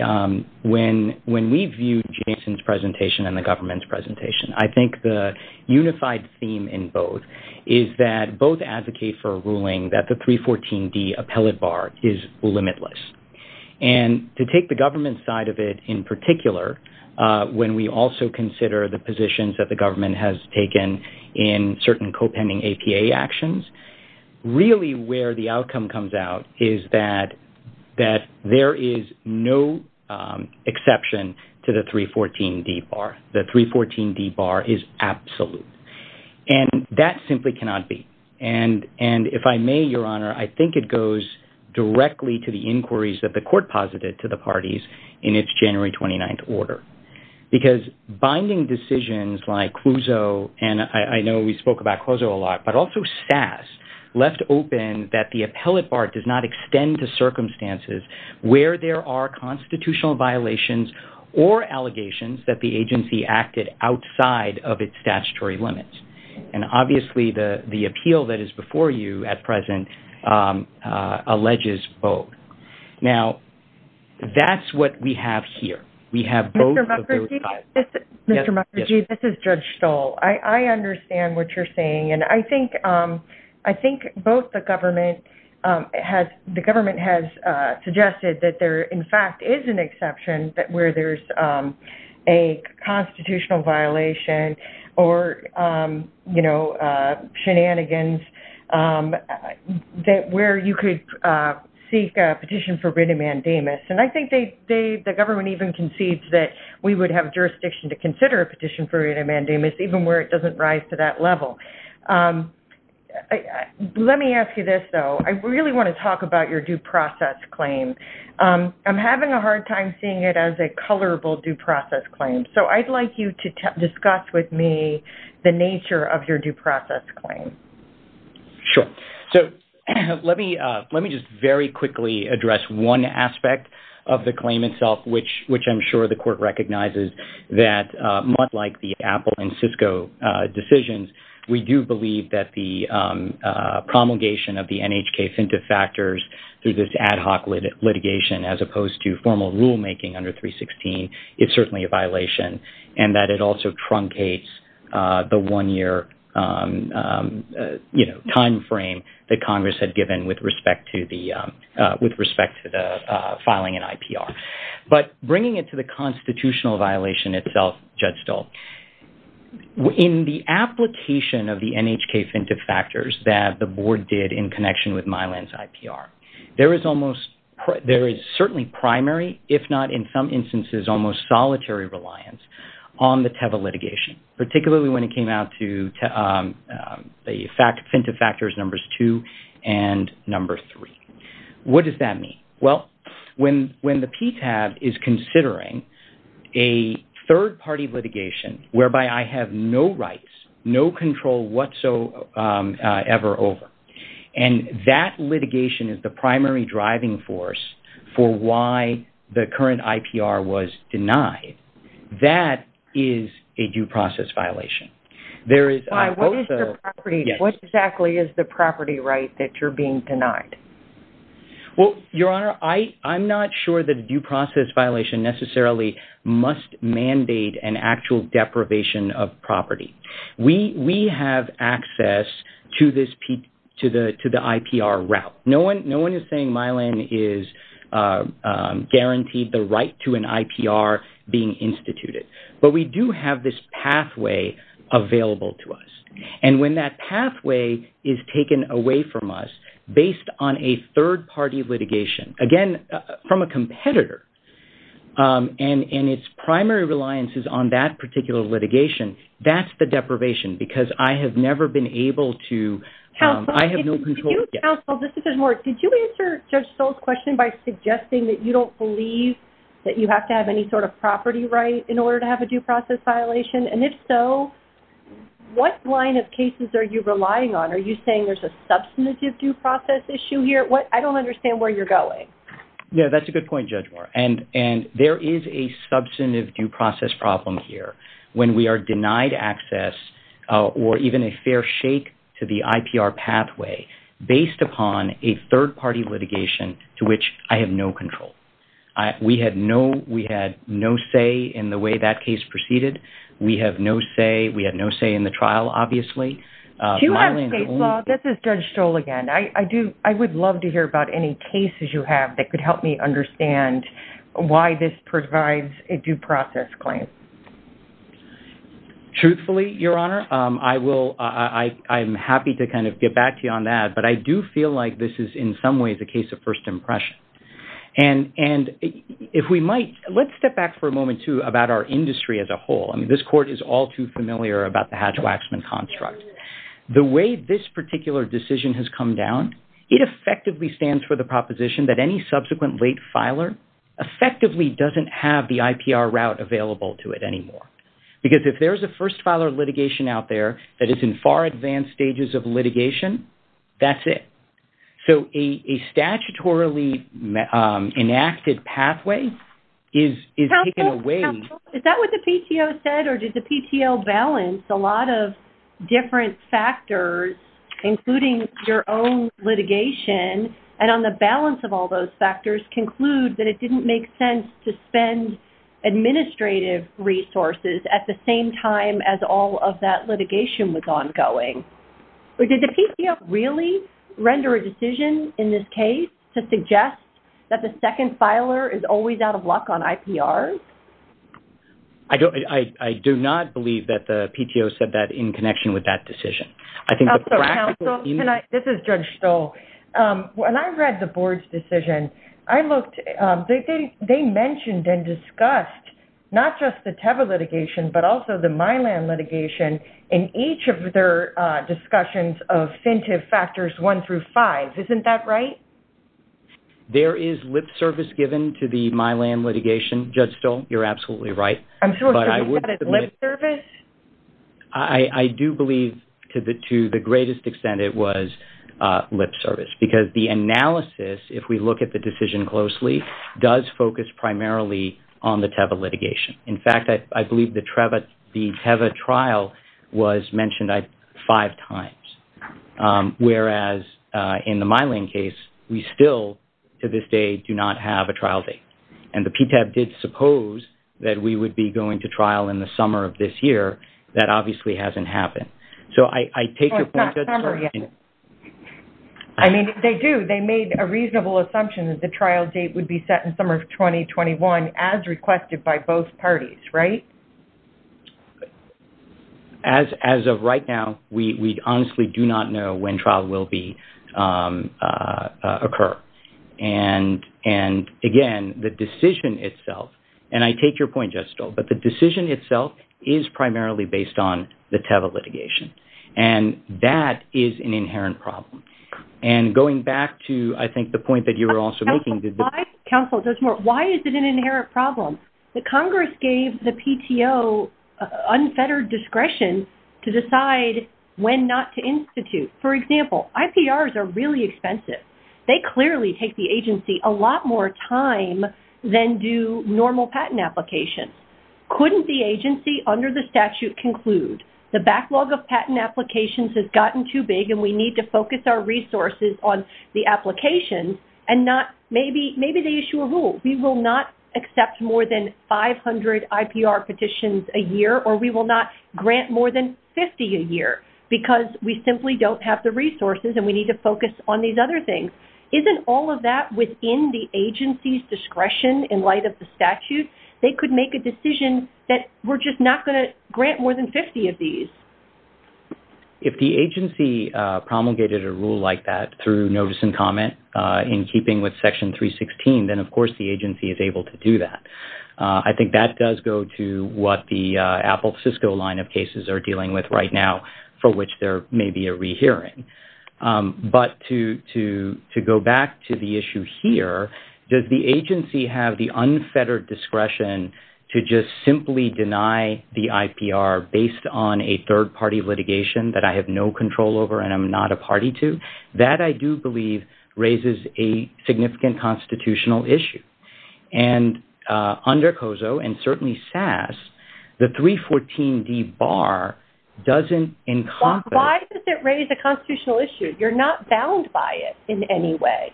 when we viewed Jansen's presentation and the government's presentation, I think the unified theme in both is that both advocate for a ruling that the 314B appellate bar is limitless. And to take the government side of it in particular, when we also consider the really where the outcome comes out is that there is no exception to the 314D bar. The 314D bar is absolute. And that simply cannot be. And if I may, Your Honor, I think it goes directly to the inquiries that the court posited to the parties in its January 29th order. Because binding decisions like CUSO, and I know we spoke about CUSO a lot, but also SASS left open that the appellate bar does not extend to circumstances where there are constitutional violations or allegations that the agency acted outside of its statutory limits. And obviously, the appeal that is before you at present alleges both. Now, that's what we have here. We have both of those files. Mr. Mukherjee, this is Judge Stoll. I understand what you're saying. And I think both the government has suggested that there, in fact, is an exception where there's a constitutional violation or, you know, shenanigans where you could seek a petition for written mandamus. And I think the government even concedes that we would have jurisdiction to consider a Let me ask you this, though. I really want to talk about your due process claim. I'm having a hard time seeing it as a colorable due process claim. So I'd like you to discuss with me the nature of your due process claim. Sure. So let me just very quickly address one aspect of the claim itself, which I'm sure the We do believe that the promulgation of the NHK SINTA factors through this ad hoc litigation as opposed to formal rulemaking under 316 is certainly a violation and that it also truncates the one-year, you know, time frame that Congress had given with respect to the filing an IPR. But bringing it to the constitutional violation itself, Judge Stoll, in the application, the promulgation of the NHK SINTA factors that the board did in connection with Milan's IPR, there is almost there is certainly primary, if not in some instances, almost solitary reliance on the TEVA litigation, particularly when it came out to the SINTA factors numbers two and number three. What does that mean? Well, when the PTAB is considering a third-party litigation whereby I have no rights, no control whatsoever over, and that litigation is the primary driving force for why the current IPR was denied, that is a due process violation. What exactly is the property right that you're being denied? Well, Your Honor, I'm not sure that a due process violation necessarily must mandate an actual deprivation of property. We have access to the IPR route. No one is saying Milan is guaranteed the right to an IPR being instituted. But we do have this pathway available to us. And when that pathway is taken away from us based on a third-party litigation, again, from a competitor, and its primary reliance is on that particular litigation, that's the deprivation because I have never been able to, I have no control. Counsel, this is Ms. Moore. Did you answer Judge Stoll's question by suggesting that you don't believe that you have to have any sort of property right in order to have a due process violation? And if so, what line of cases are you relying on? Are you saying there's a substantive due process issue here? I don't understand where you're going. No, that's a good point, Judge Moore. And there is a substantive due process problem here when we are denied access or even a fair shake to the IPR pathway based upon a third-party litigation to which I have no control. We had no say in the way that case proceeded. We have no say. We had no say in the trial, obviously. Do you have state law? This is Judge Stoll again. I would love to hear about any cases you have that could help me understand why this provides a due process claim. Truthfully, Your Honor, I'm happy to kind of get back to you on that, but I do feel like this is in some ways a case of first impression. And if we might, let's step back for a moment, too, about our industry as a whole. I mean, this Court is all too familiar about the Hatch-Waxman construct. The way this particular decision has come down, it effectively stands for the proposition that any subsequent late filer effectively doesn't have the IPR route available to it anymore because if there's a first filer litigation out there that is in far advanced stages of litigation, that's it. So a statutorily enacted pathway is taken away. Counsel, is that what the PTO said or did the PTO balance a lot of different factors, including your own litigation, and on the balance of all those factors conclude that it didn't make sense to spend administrative resources at the same time as all of that litigation was ongoing? Did the PTO really render a decision in this case to suggest that the second filer is always out of luck on IPRs? I do not believe that the PTO said that in connection with that decision. I think the practical... Counsel, can I... This is Judge Stoll. When I read the Board's decision, I looked... They mentioned and discussed not just the Teva litigation, but also the Milan litigation in each of their discussions of incentive factors one through five. Isn't that right? There is lip service given to the Milan litigation, Judge Stoll. You're absolutely right. I'm sorry, is that lip service? I do believe to the greatest extent it was lip service because the analysis, if we look at the decision closely, does focus primarily on the Teva litigation. In fact, I believe the Teva trial was mentioned five times, whereas in the Milan case, we still, to this day, do not have a trial date. And the PTAB did suppose that we would be going to trial in the summer of this year. That obviously hasn't happened. So, I take your point that... I mean, they do. They made a reasonable assumption that the trial date would be set in summer of 2021 as requested by both parties, right? As of right now, we honestly do not know when trial will occur. And again, the decision itself, and I take your point, Judge Stoll, but the decision itself is primarily based on the Teva litigation. And that is an inherent problem. And going back to, I think, the point that you were also making... Why is it an inherent problem? The Congress gave the PTO unfettered discretion to decide when not to institute. For example, IPRs are really expensive. They clearly take the agency a lot more time than do normal patent applications. Couldn't the agency, under the statute, conclude the backlog of patent applications has Maybe they issue a rule. We will not accept more than 500 IPR petitions a year or we will not grant more than 50 a year because we simply don't have the resources and we need to focus on these other things. Isn't all of that within the agency's discretion in light of the statute? They could make a decision that we're just not going to grant more than 50 of these. If the agency promulgated a rule like that through notice and comment in keeping with Section 316, then, of course, the agency is able to do that. I think that does go to what the Apple-Cisco line of cases are dealing with right now, for which there may be a rehearing. But to go back to the issue here, does the agency have the unfettered discretion to just simply deny the IPR based on a third-party litigation that I have no control over and I'm not a party to? That, I do believe, raises a significant constitutional issue. And under COSO and certainly SAS, the 314D bar doesn't encompass... Why does it raise a constitutional issue? You're not bound by it in any way.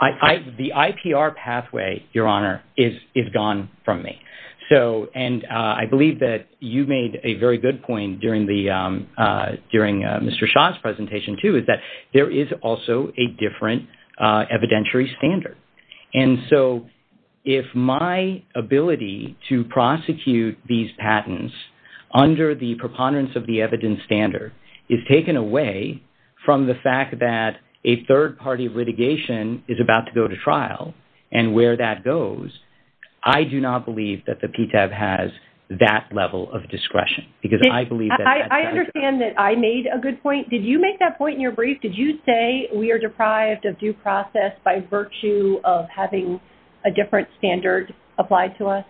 The IPR pathway, Your Honor, is gone from me. And I believe that you made a very good point during Mr. Shah's presentation too, is that there is also a different evidentiary standard. And so if my ability to prosecute these patents under the preponderance of the evidence standard is taken away from the fact that a third-party litigation is about to go to trial and where that goes, I do not believe that the PTAB has that level of discretion. I understand that I made a good point. Did you make that point in your brief? Did you say we are deprived of due process by virtue of having a different standard applied to us?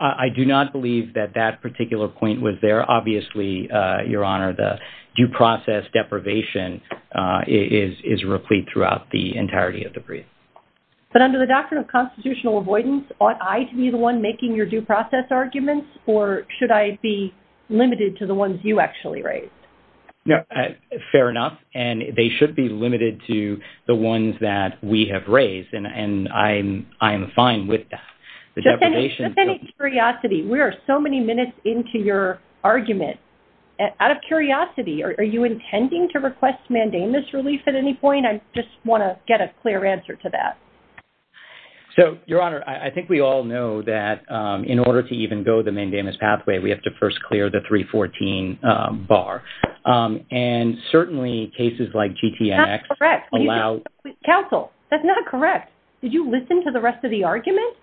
I do not believe that that particular point was there. Obviously, Your Honor, the due process deprivation is replete throughout the entirety of the brief. But under the doctrine of constitutional avoidance, ought I to be the one making your due process arguments or should I be limited to the ones you actually raised? Fair enough. And they should be limited to the ones that we have raised. And I am fine with that. Just out of curiosity, we are so many minutes into your argument. Out of curiosity, are you intending to request mandamus relief at any point? I just want to get a clear answer to that. So, Your Honor, I think we all know that in order to even go the mandamus pathway, we have to first clear the 314 bar. And certainly cases like GTNX allow... That is correct. Counsel, that is not correct. Did you listen to the rest of the argument?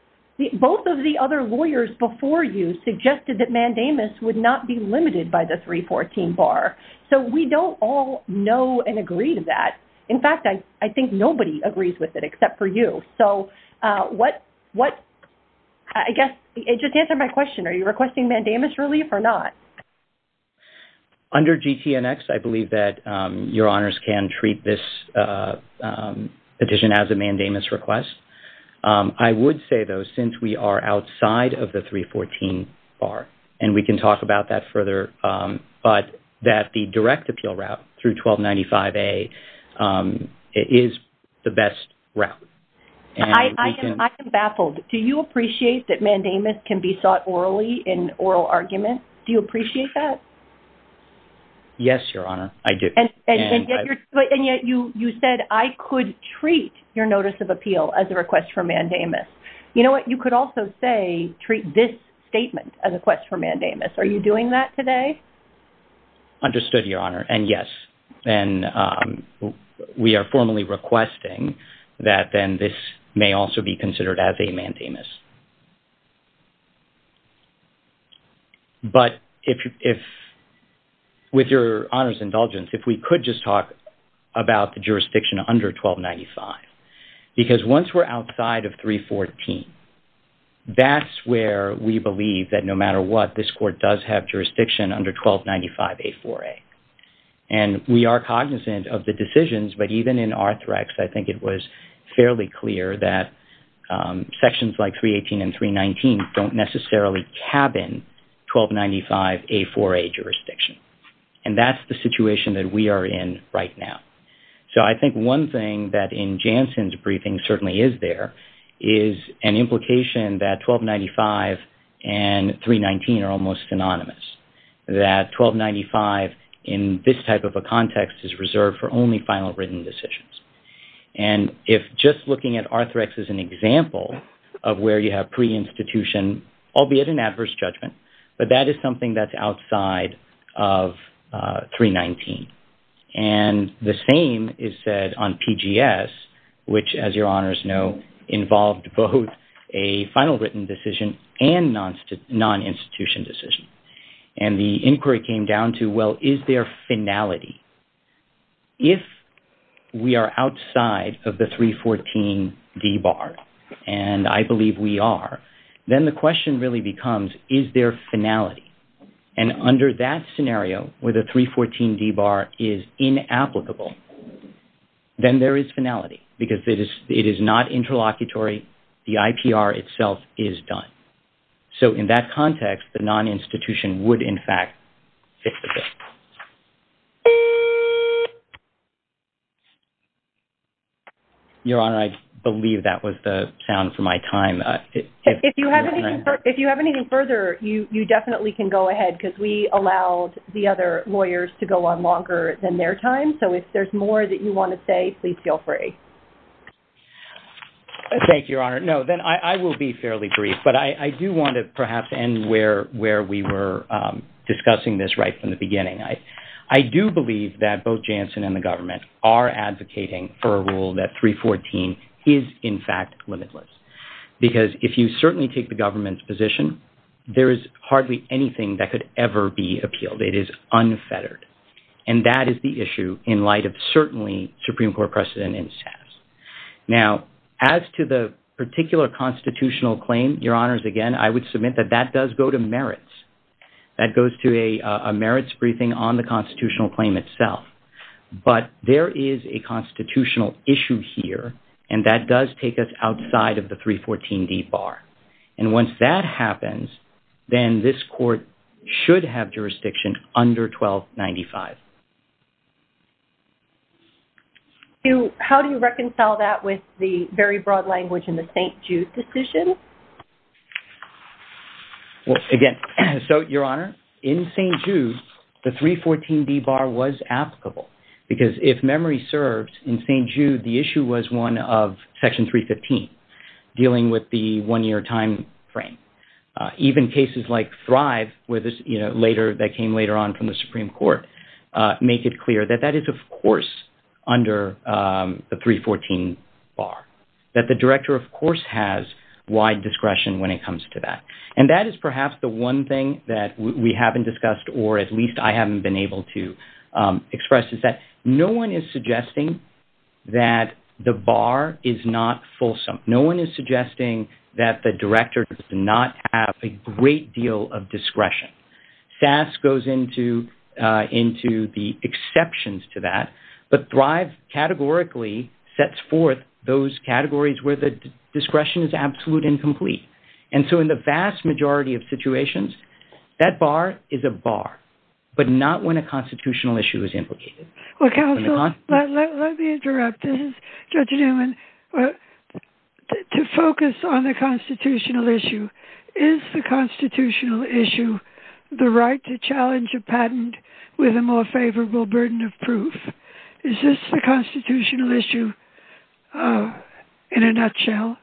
Both of the other lawyers before you suggested that mandamus would not be limited by the 314 bar. So, we don't all know and agree to that. In fact, I think nobody agrees with it except for you. So, what... I guess, just answer my question. Are you requesting mandamus relief or not? Under GTNX, I believe that Your Honors can treat this petition as a mandamus request. I would say, though, since we are outside of the 314 bar, and we can talk about that further, but that the direct appeal route through 1295A is the best route. I am baffled. Do you appreciate that mandamus can be sought orally in oral arguments? Do you appreciate that? Yes, Your Honor, I do. And yet you said, I could treat your notice of appeal as a request for mandamus. You know what? You could also say, treat this statement as a request for mandamus. Are you doing that today? Understood, Your Honor, and yes. And we are formally requesting that then this may also be considered as a mandamus. But if... With Your Honors' indulgence, if we could just talk about the jurisdiction under 1295. Because once we're outside of 314, that's where we believe that no matter what, this court does have jurisdiction under 1295A4A. And we are cognizant of the decisions, but even in Arthrex, I think it was fairly clear that sections like 318 and 319 don't necessarily cabin 1295A4A jurisdiction. And that's the situation that we are in right now. So I think one thing that in Jansen's briefing certainly is there, is an implication that 1295 and 319 are almost synonymous. That 1295 in this type of a context is reserved for only final written decisions. And if just looking at Arthrex as an example of where you have pre-institution, albeit an adverse judgment, but that is something that's outside of 319. And the same is said on PGS, which, as Your Honors know, involved both a final written decision and non-institution decision. And the inquiry came down to, well, is there finality? If we are outside of the 314 D-bar, and I believe we are, then the question really becomes, is there finality? And under that scenario, where the 314 D-bar is inapplicable, then there is finality. Because it is not interlocutory. The IPR itself is done. So in that context, the non-institution would, in fact, fit the bill. Your Honor, I believe that was the sound for my time. If you have anything further, you definitely can go ahead, because we allowed the other lawyers to go on longer than their time. So if there's more that you want to say, please feel free. Thank you, Your Honor. No, then I will be fairly brief. But I do want to perhaps end where we were discussing this right from the beginning. I do believe that both Janssen and the government are advocating for a rule that 314 is, in fact, limitless. Because if you certainly take the government's position, there is hardly anything that could ever be appealed. It is unfettered. And that is the issue in light of certainly Supreme Court precedent and status. Now, as to the particular constitutional claim, Your Honors, again, I would submit that that does go to merits. That goes to a merits briefing on the constitutional claim itself. But there is a constitutional issue here, and that does take us outside of the 314 D-bar. And once that happens, then this court should have jurisdiction under 1295. How do you reconcile that with the very broad language in the St. Jude decision? Again, so, Your Honor, in St. Jude, the 314 D-bar was applicable. Because if memory serves, in St. Jude, the issue was one of Section 315, dealing with the one-year time frame. Even cases like Thrive, that came later on from the Supreme Court, make it clear that that is, of course, under the 314-bar. That the Director, of course, has wide discretion when it comes to that. And that is perhaps the one thing that we haven't discussed, or at least I haven't been able to express, is that no one is suggesting that the bar is not fulsome. No one is suggesting that the Director does not have a great deal of discretion. FAST goes into the exceptions to that, but Thrive categorically sets forth those categories where the discretion is absolute and complete. And so in the vast majority of situations, that bar is a bar, but not when a constitutional issue is implicated. Well, counsel, let me interrupt. This is Judge Newman. To focus on the constitutional issue, is the constitutional issue the right to challenge a patent with a more favorable burden of proof? Is this the constitutional issue in a nutshell?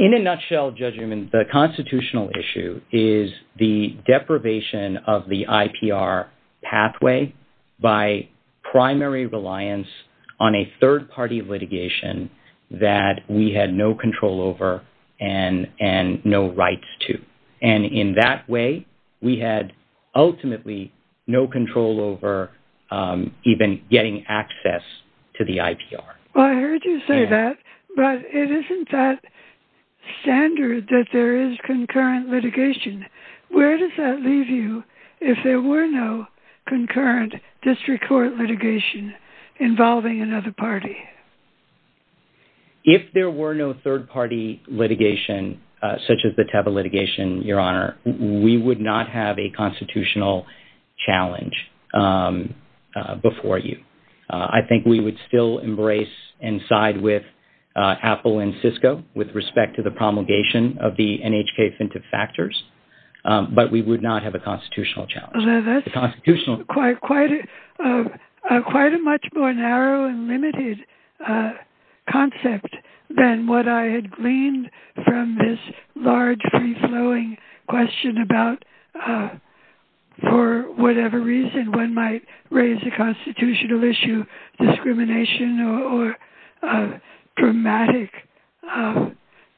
In a nutshell, Judge Newman, the constitutional issue is the deprivation of the IPR pathway by primary reliance on a third-party litigation that we had no control over and no rights to. And in that way, we had ultimately no control over even getting access to the IPR. Well, I heard you say that, but it isn't that standard that there is concurrent litigation. Where does that leave you if there were no concurrent district court litigation involving another party? If there were no third-party litigation such as the Teva litigation, Your Honor, we would not have a constitutional challenge before you. I think we would still embrace and side with Apple and Cisco with respect to the promulgation of the NHK Offensive Factors, but we would not have a constitutional challenge. That's quite a much more narrow and limited concept than what I had gleaned from this large, free-flowing question about for whatever reason one might raise a constitutional issue, discrimination or dramatic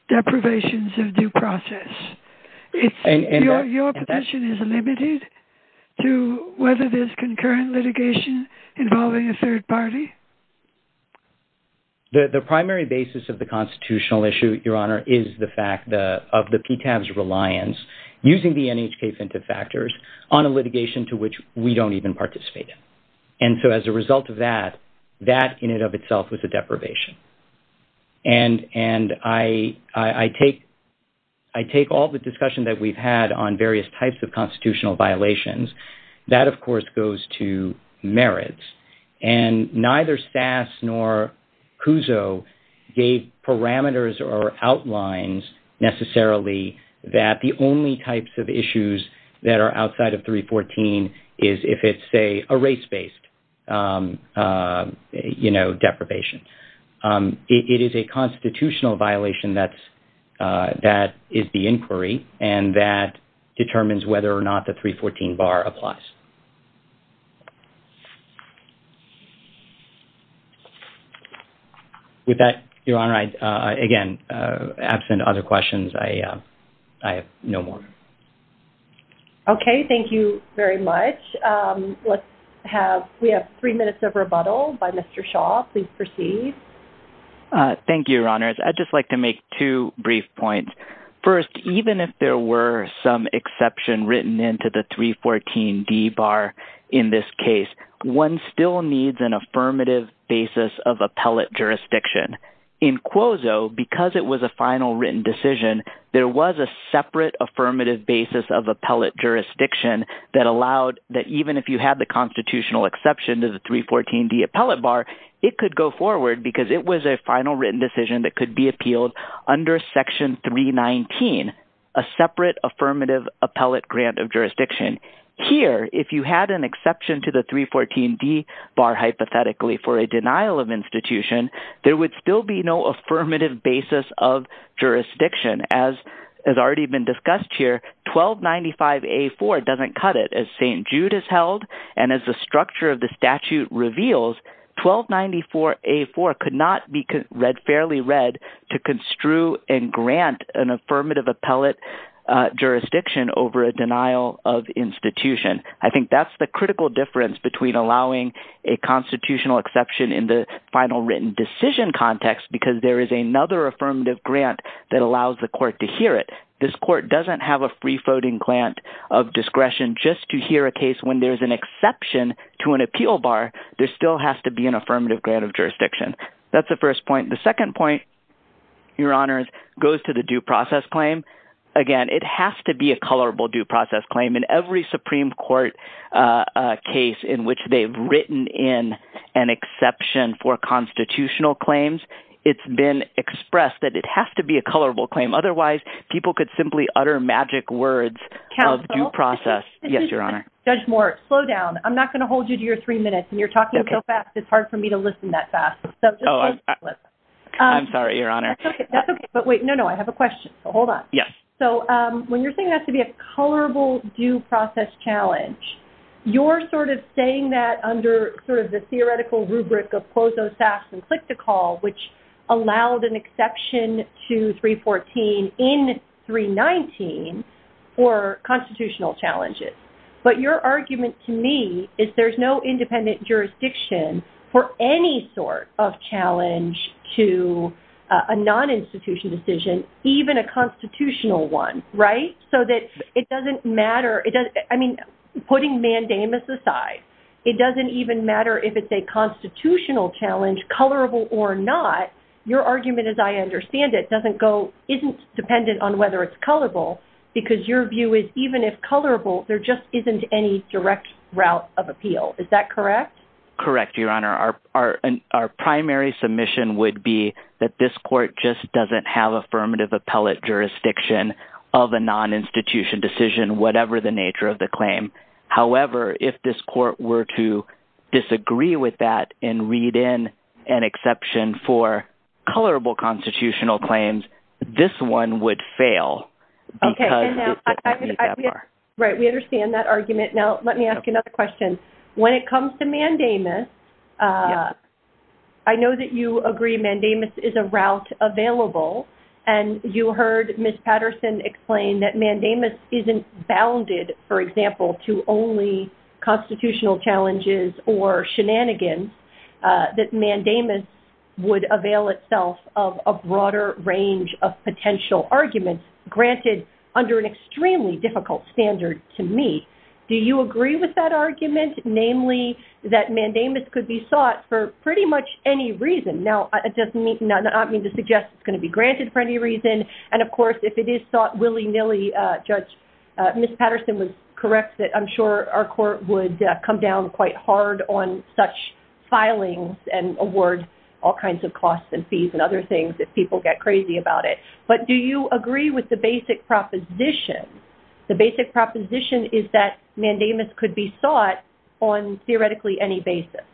deprivations of due process. Your profession is limited to whether there's concurrent litigation involving a third party? The primary basis of the constitutional issue, Your Honor, is the fact of the PCAV's reliance. Using the NHK Offensive Factors on a litigation to which we don't even participate in. And so as a result of that, that in and of itself is a deprivation. And I take all the discussion that we've had on various types of constitutional violations. That, of course, goes to merits. And neither SAS nor CUSO gave parameters or outlines necessarily that the only types of issues that are outside of 314 is if it's, say, a race-based deprivation. It is a constitutional violation that is the inquiry and that determines whether or not the 314 bar applies. With that, Your Honor, again, absent other questions, I have no more. Okay. Thank you very much. We have three minutes of rebuttal by Mr. Shaw. Please proceed. Thank you, Your Honors. I'd just like to make two brief points. First, even if there were some exception written into the 314D bar in this case, one still needs an affirmative basis of appellate jurisdiction. In CUSO, because it was a final written decision, there was a separate affirmative basis of appellate jurisdiction that allowed that even if you had the constitutional exception to the 314D appellate bar, it could go forward because it was a final written decision that could be appealed under Section 319, a separate affirmative appellate grant of jurisdiction. Here, if you had an exception to the 314D bar hypothetically for a denial of institution, there would still be no affirmative basis of jurisdiction. As has already been discussed here, 1295A4 doesn't cut it. As St. Jude has held and as the structure of the statute reveals, 1294A4 could not be read fairly read to construe and grant an affirmative appellate jurisdiction over a denial of institution. I think that's the critical difference between allowing a constitutional exception in the final written decision context because there is another affirmative grant that allows the court to hear it. This court doesn't have a free-voting grant of discretion just to hear a case when there's an exception to an appeal bar. There still has to be an affirmative grant of jurisdiction. That's the first point. The second point, Your Honor, goes to the due process claim. Again, it has to be a colorable due process claim. In every Supreme Court case in which they've written in an exception for constitutional claims, it's been expressed that it has to be a colorable claim. Otherwise, people could simply utter magic words of due process. Counsel? Yes, Your Honor. Judge Moore, slow down. I'm not going to hold you to your three minutes. When you're talking so fast, it's hard for me to listen that fast. Oh, I'm sorry, Your Honor. That's okay. But wait. No, no. I have a question. Hold on. Yes. So when you're saying it has to be a colorable due process challenge, you're sort of saying that under sort of the theoretical rubric of quotas and click-to-call, which allowed an exception to 314 in 319 for constitutional challenges. But your argument to me is there's no independent jurisdiction for any sort of challenge to a non-institutional decision, even a constitutional one, right? So that it doesn't matter. I mean, putting mandamus aside, it doesn't even matter if it's a constitutional challenge, colorable or not. Your argument, as I understand it, doesn't go – isn't dependent on whether it's colorable because your view is even if colorable, there just isn't any direct route of appeal. Is that correct? Correct, Your Honor. Our primary submission would be that this court just doesn't have affirmative appellate jurisdiction of a non-institution decision, whatever the nature of the claim. However, if this court were to disagree with that and read in an exception for colorable constitutional claims, this one would fail. Okay. Right, we understand that argument. Now, let me ask another question. When it comes to mandamus, I know that you agree mandamus is a route available, and you heard Ms. Patterson explain that mandamus isn't bounded, for example, to only constitutional challenges or shenanigans, that mandamus would avail itself of a broader range of potential arguments granted under an extremely difficult standard to meet. Do you agree with that argument, namely that mandamus could be sought for pretty much any reason? Now, I don't mean to suggest it's going to be granted for any reason, and, of course, if it is sought willy-nilly, Judge – Ms. Patterson was correct that I'm sure our court would come down quite hard on such filings and award all kinds of costs and fees and other things if people get crazy about it. But do you agree with the basic proposition? The basic proposition is that mandamus could be sought on theoretically any basis.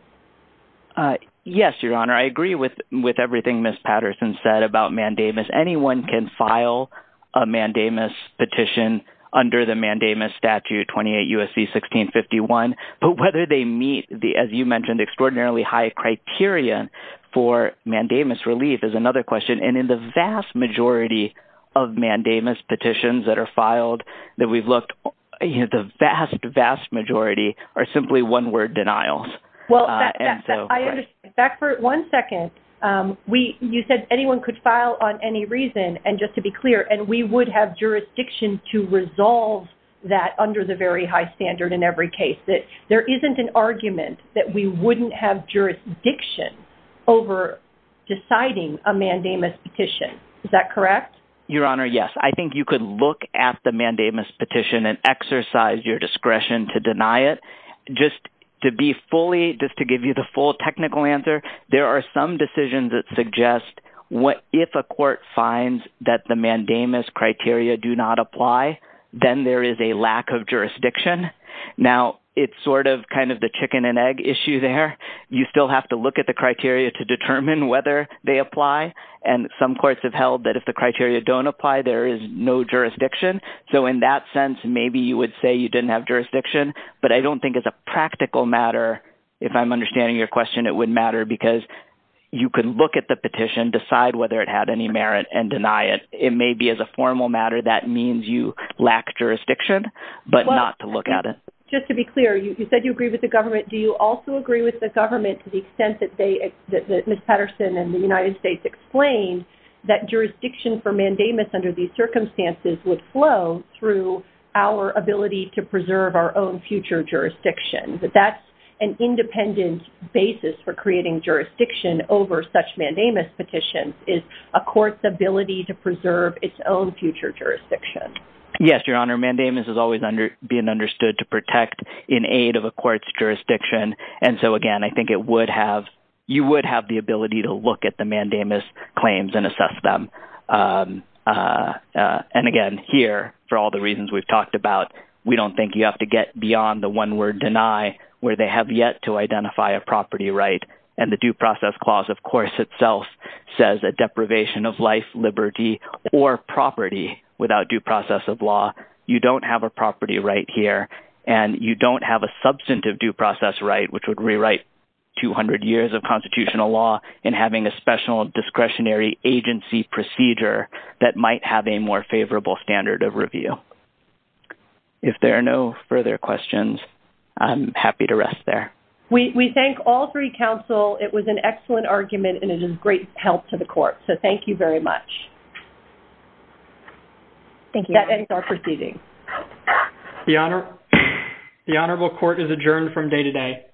Yes, Your Honor, I agree with everything Ms. Patterson said about mandamus. Anyone can file a mandamus petition under the mandamus statute, 28 U.S.C. 1651. But whether they meet, as you mentioned, extraordinarily high criteria for mandamus relief is another question. And in the vast majority of mandamus petitions that are filed that we've looked, the vast, vast majority are simply one-word denials. Well, back for one second. You said anyone could file on any reason, and just to be clear, and we would have jurisdiction to resolve that under the very high standard in every case. There isn't an argument that we wouldn't have jurisdiction over deciding a mandamus petition. Is that correct? Your Honor, yes. I think you could look at the mandamus petition and exercise your discretion to deny it. Just to be fully – just to give you the full technical answer, there are some decisions that suggest if a court finds that the mandamus criteria do not apply, then there is a lack of jurisdiction. Now, it's sort of kind of the chicken and egg issue there. You still have to look at the criteria to determine whether they apply. And some courts have held that if the criteria don't apply, there is no jurisdiction. So in that sense, maybe you would say you didn't have jurisdiction. But I don't think as a practical matter, if I'm understanding your question, it would matter because you could look at the petition, decide whether it had any merit, and deny it. It may be as a formal matter that means you lack jurisdiction, but not to look at it. Just to be clear, you said you agree with the government. Do you also agree with the government to the extent that Ms. Patterson and the United States explained that jurisdiction for mandamus under these circumstances would flow through our ability to preserve our own future jurisdiction, that that's an independent basis for creating jurisdiction over such mandamus petitions, is a court's ability to preserve its own future jurisdiction? Yes, Your Honor. Mandamus is always being understood to protect in aid of a court's jurisdiction. And so, again, I think you would have the ability to look at the mandamus claims and assess them. And, again, here, for all the reasons we've talked about, we don't think you have to get beyond the one-word deny where they have yet to identify a property right. And the Due Process Clause, of course, itself says that deprivation of life, liberty, or property without due process of law, you don't have a property right here. And you don't have a substantive due process right, which would rewrite 200 years of constitutional law in having a special discretionary agency procedure that might have a more favorable standard of review. If there are no further questions, I'm happy to rest there. We thank all three counsel. It was an excellent argument, and it is great help to the court. So, thank you very much. That ends our proceeding. The Honorable Court is adjourned from day to day.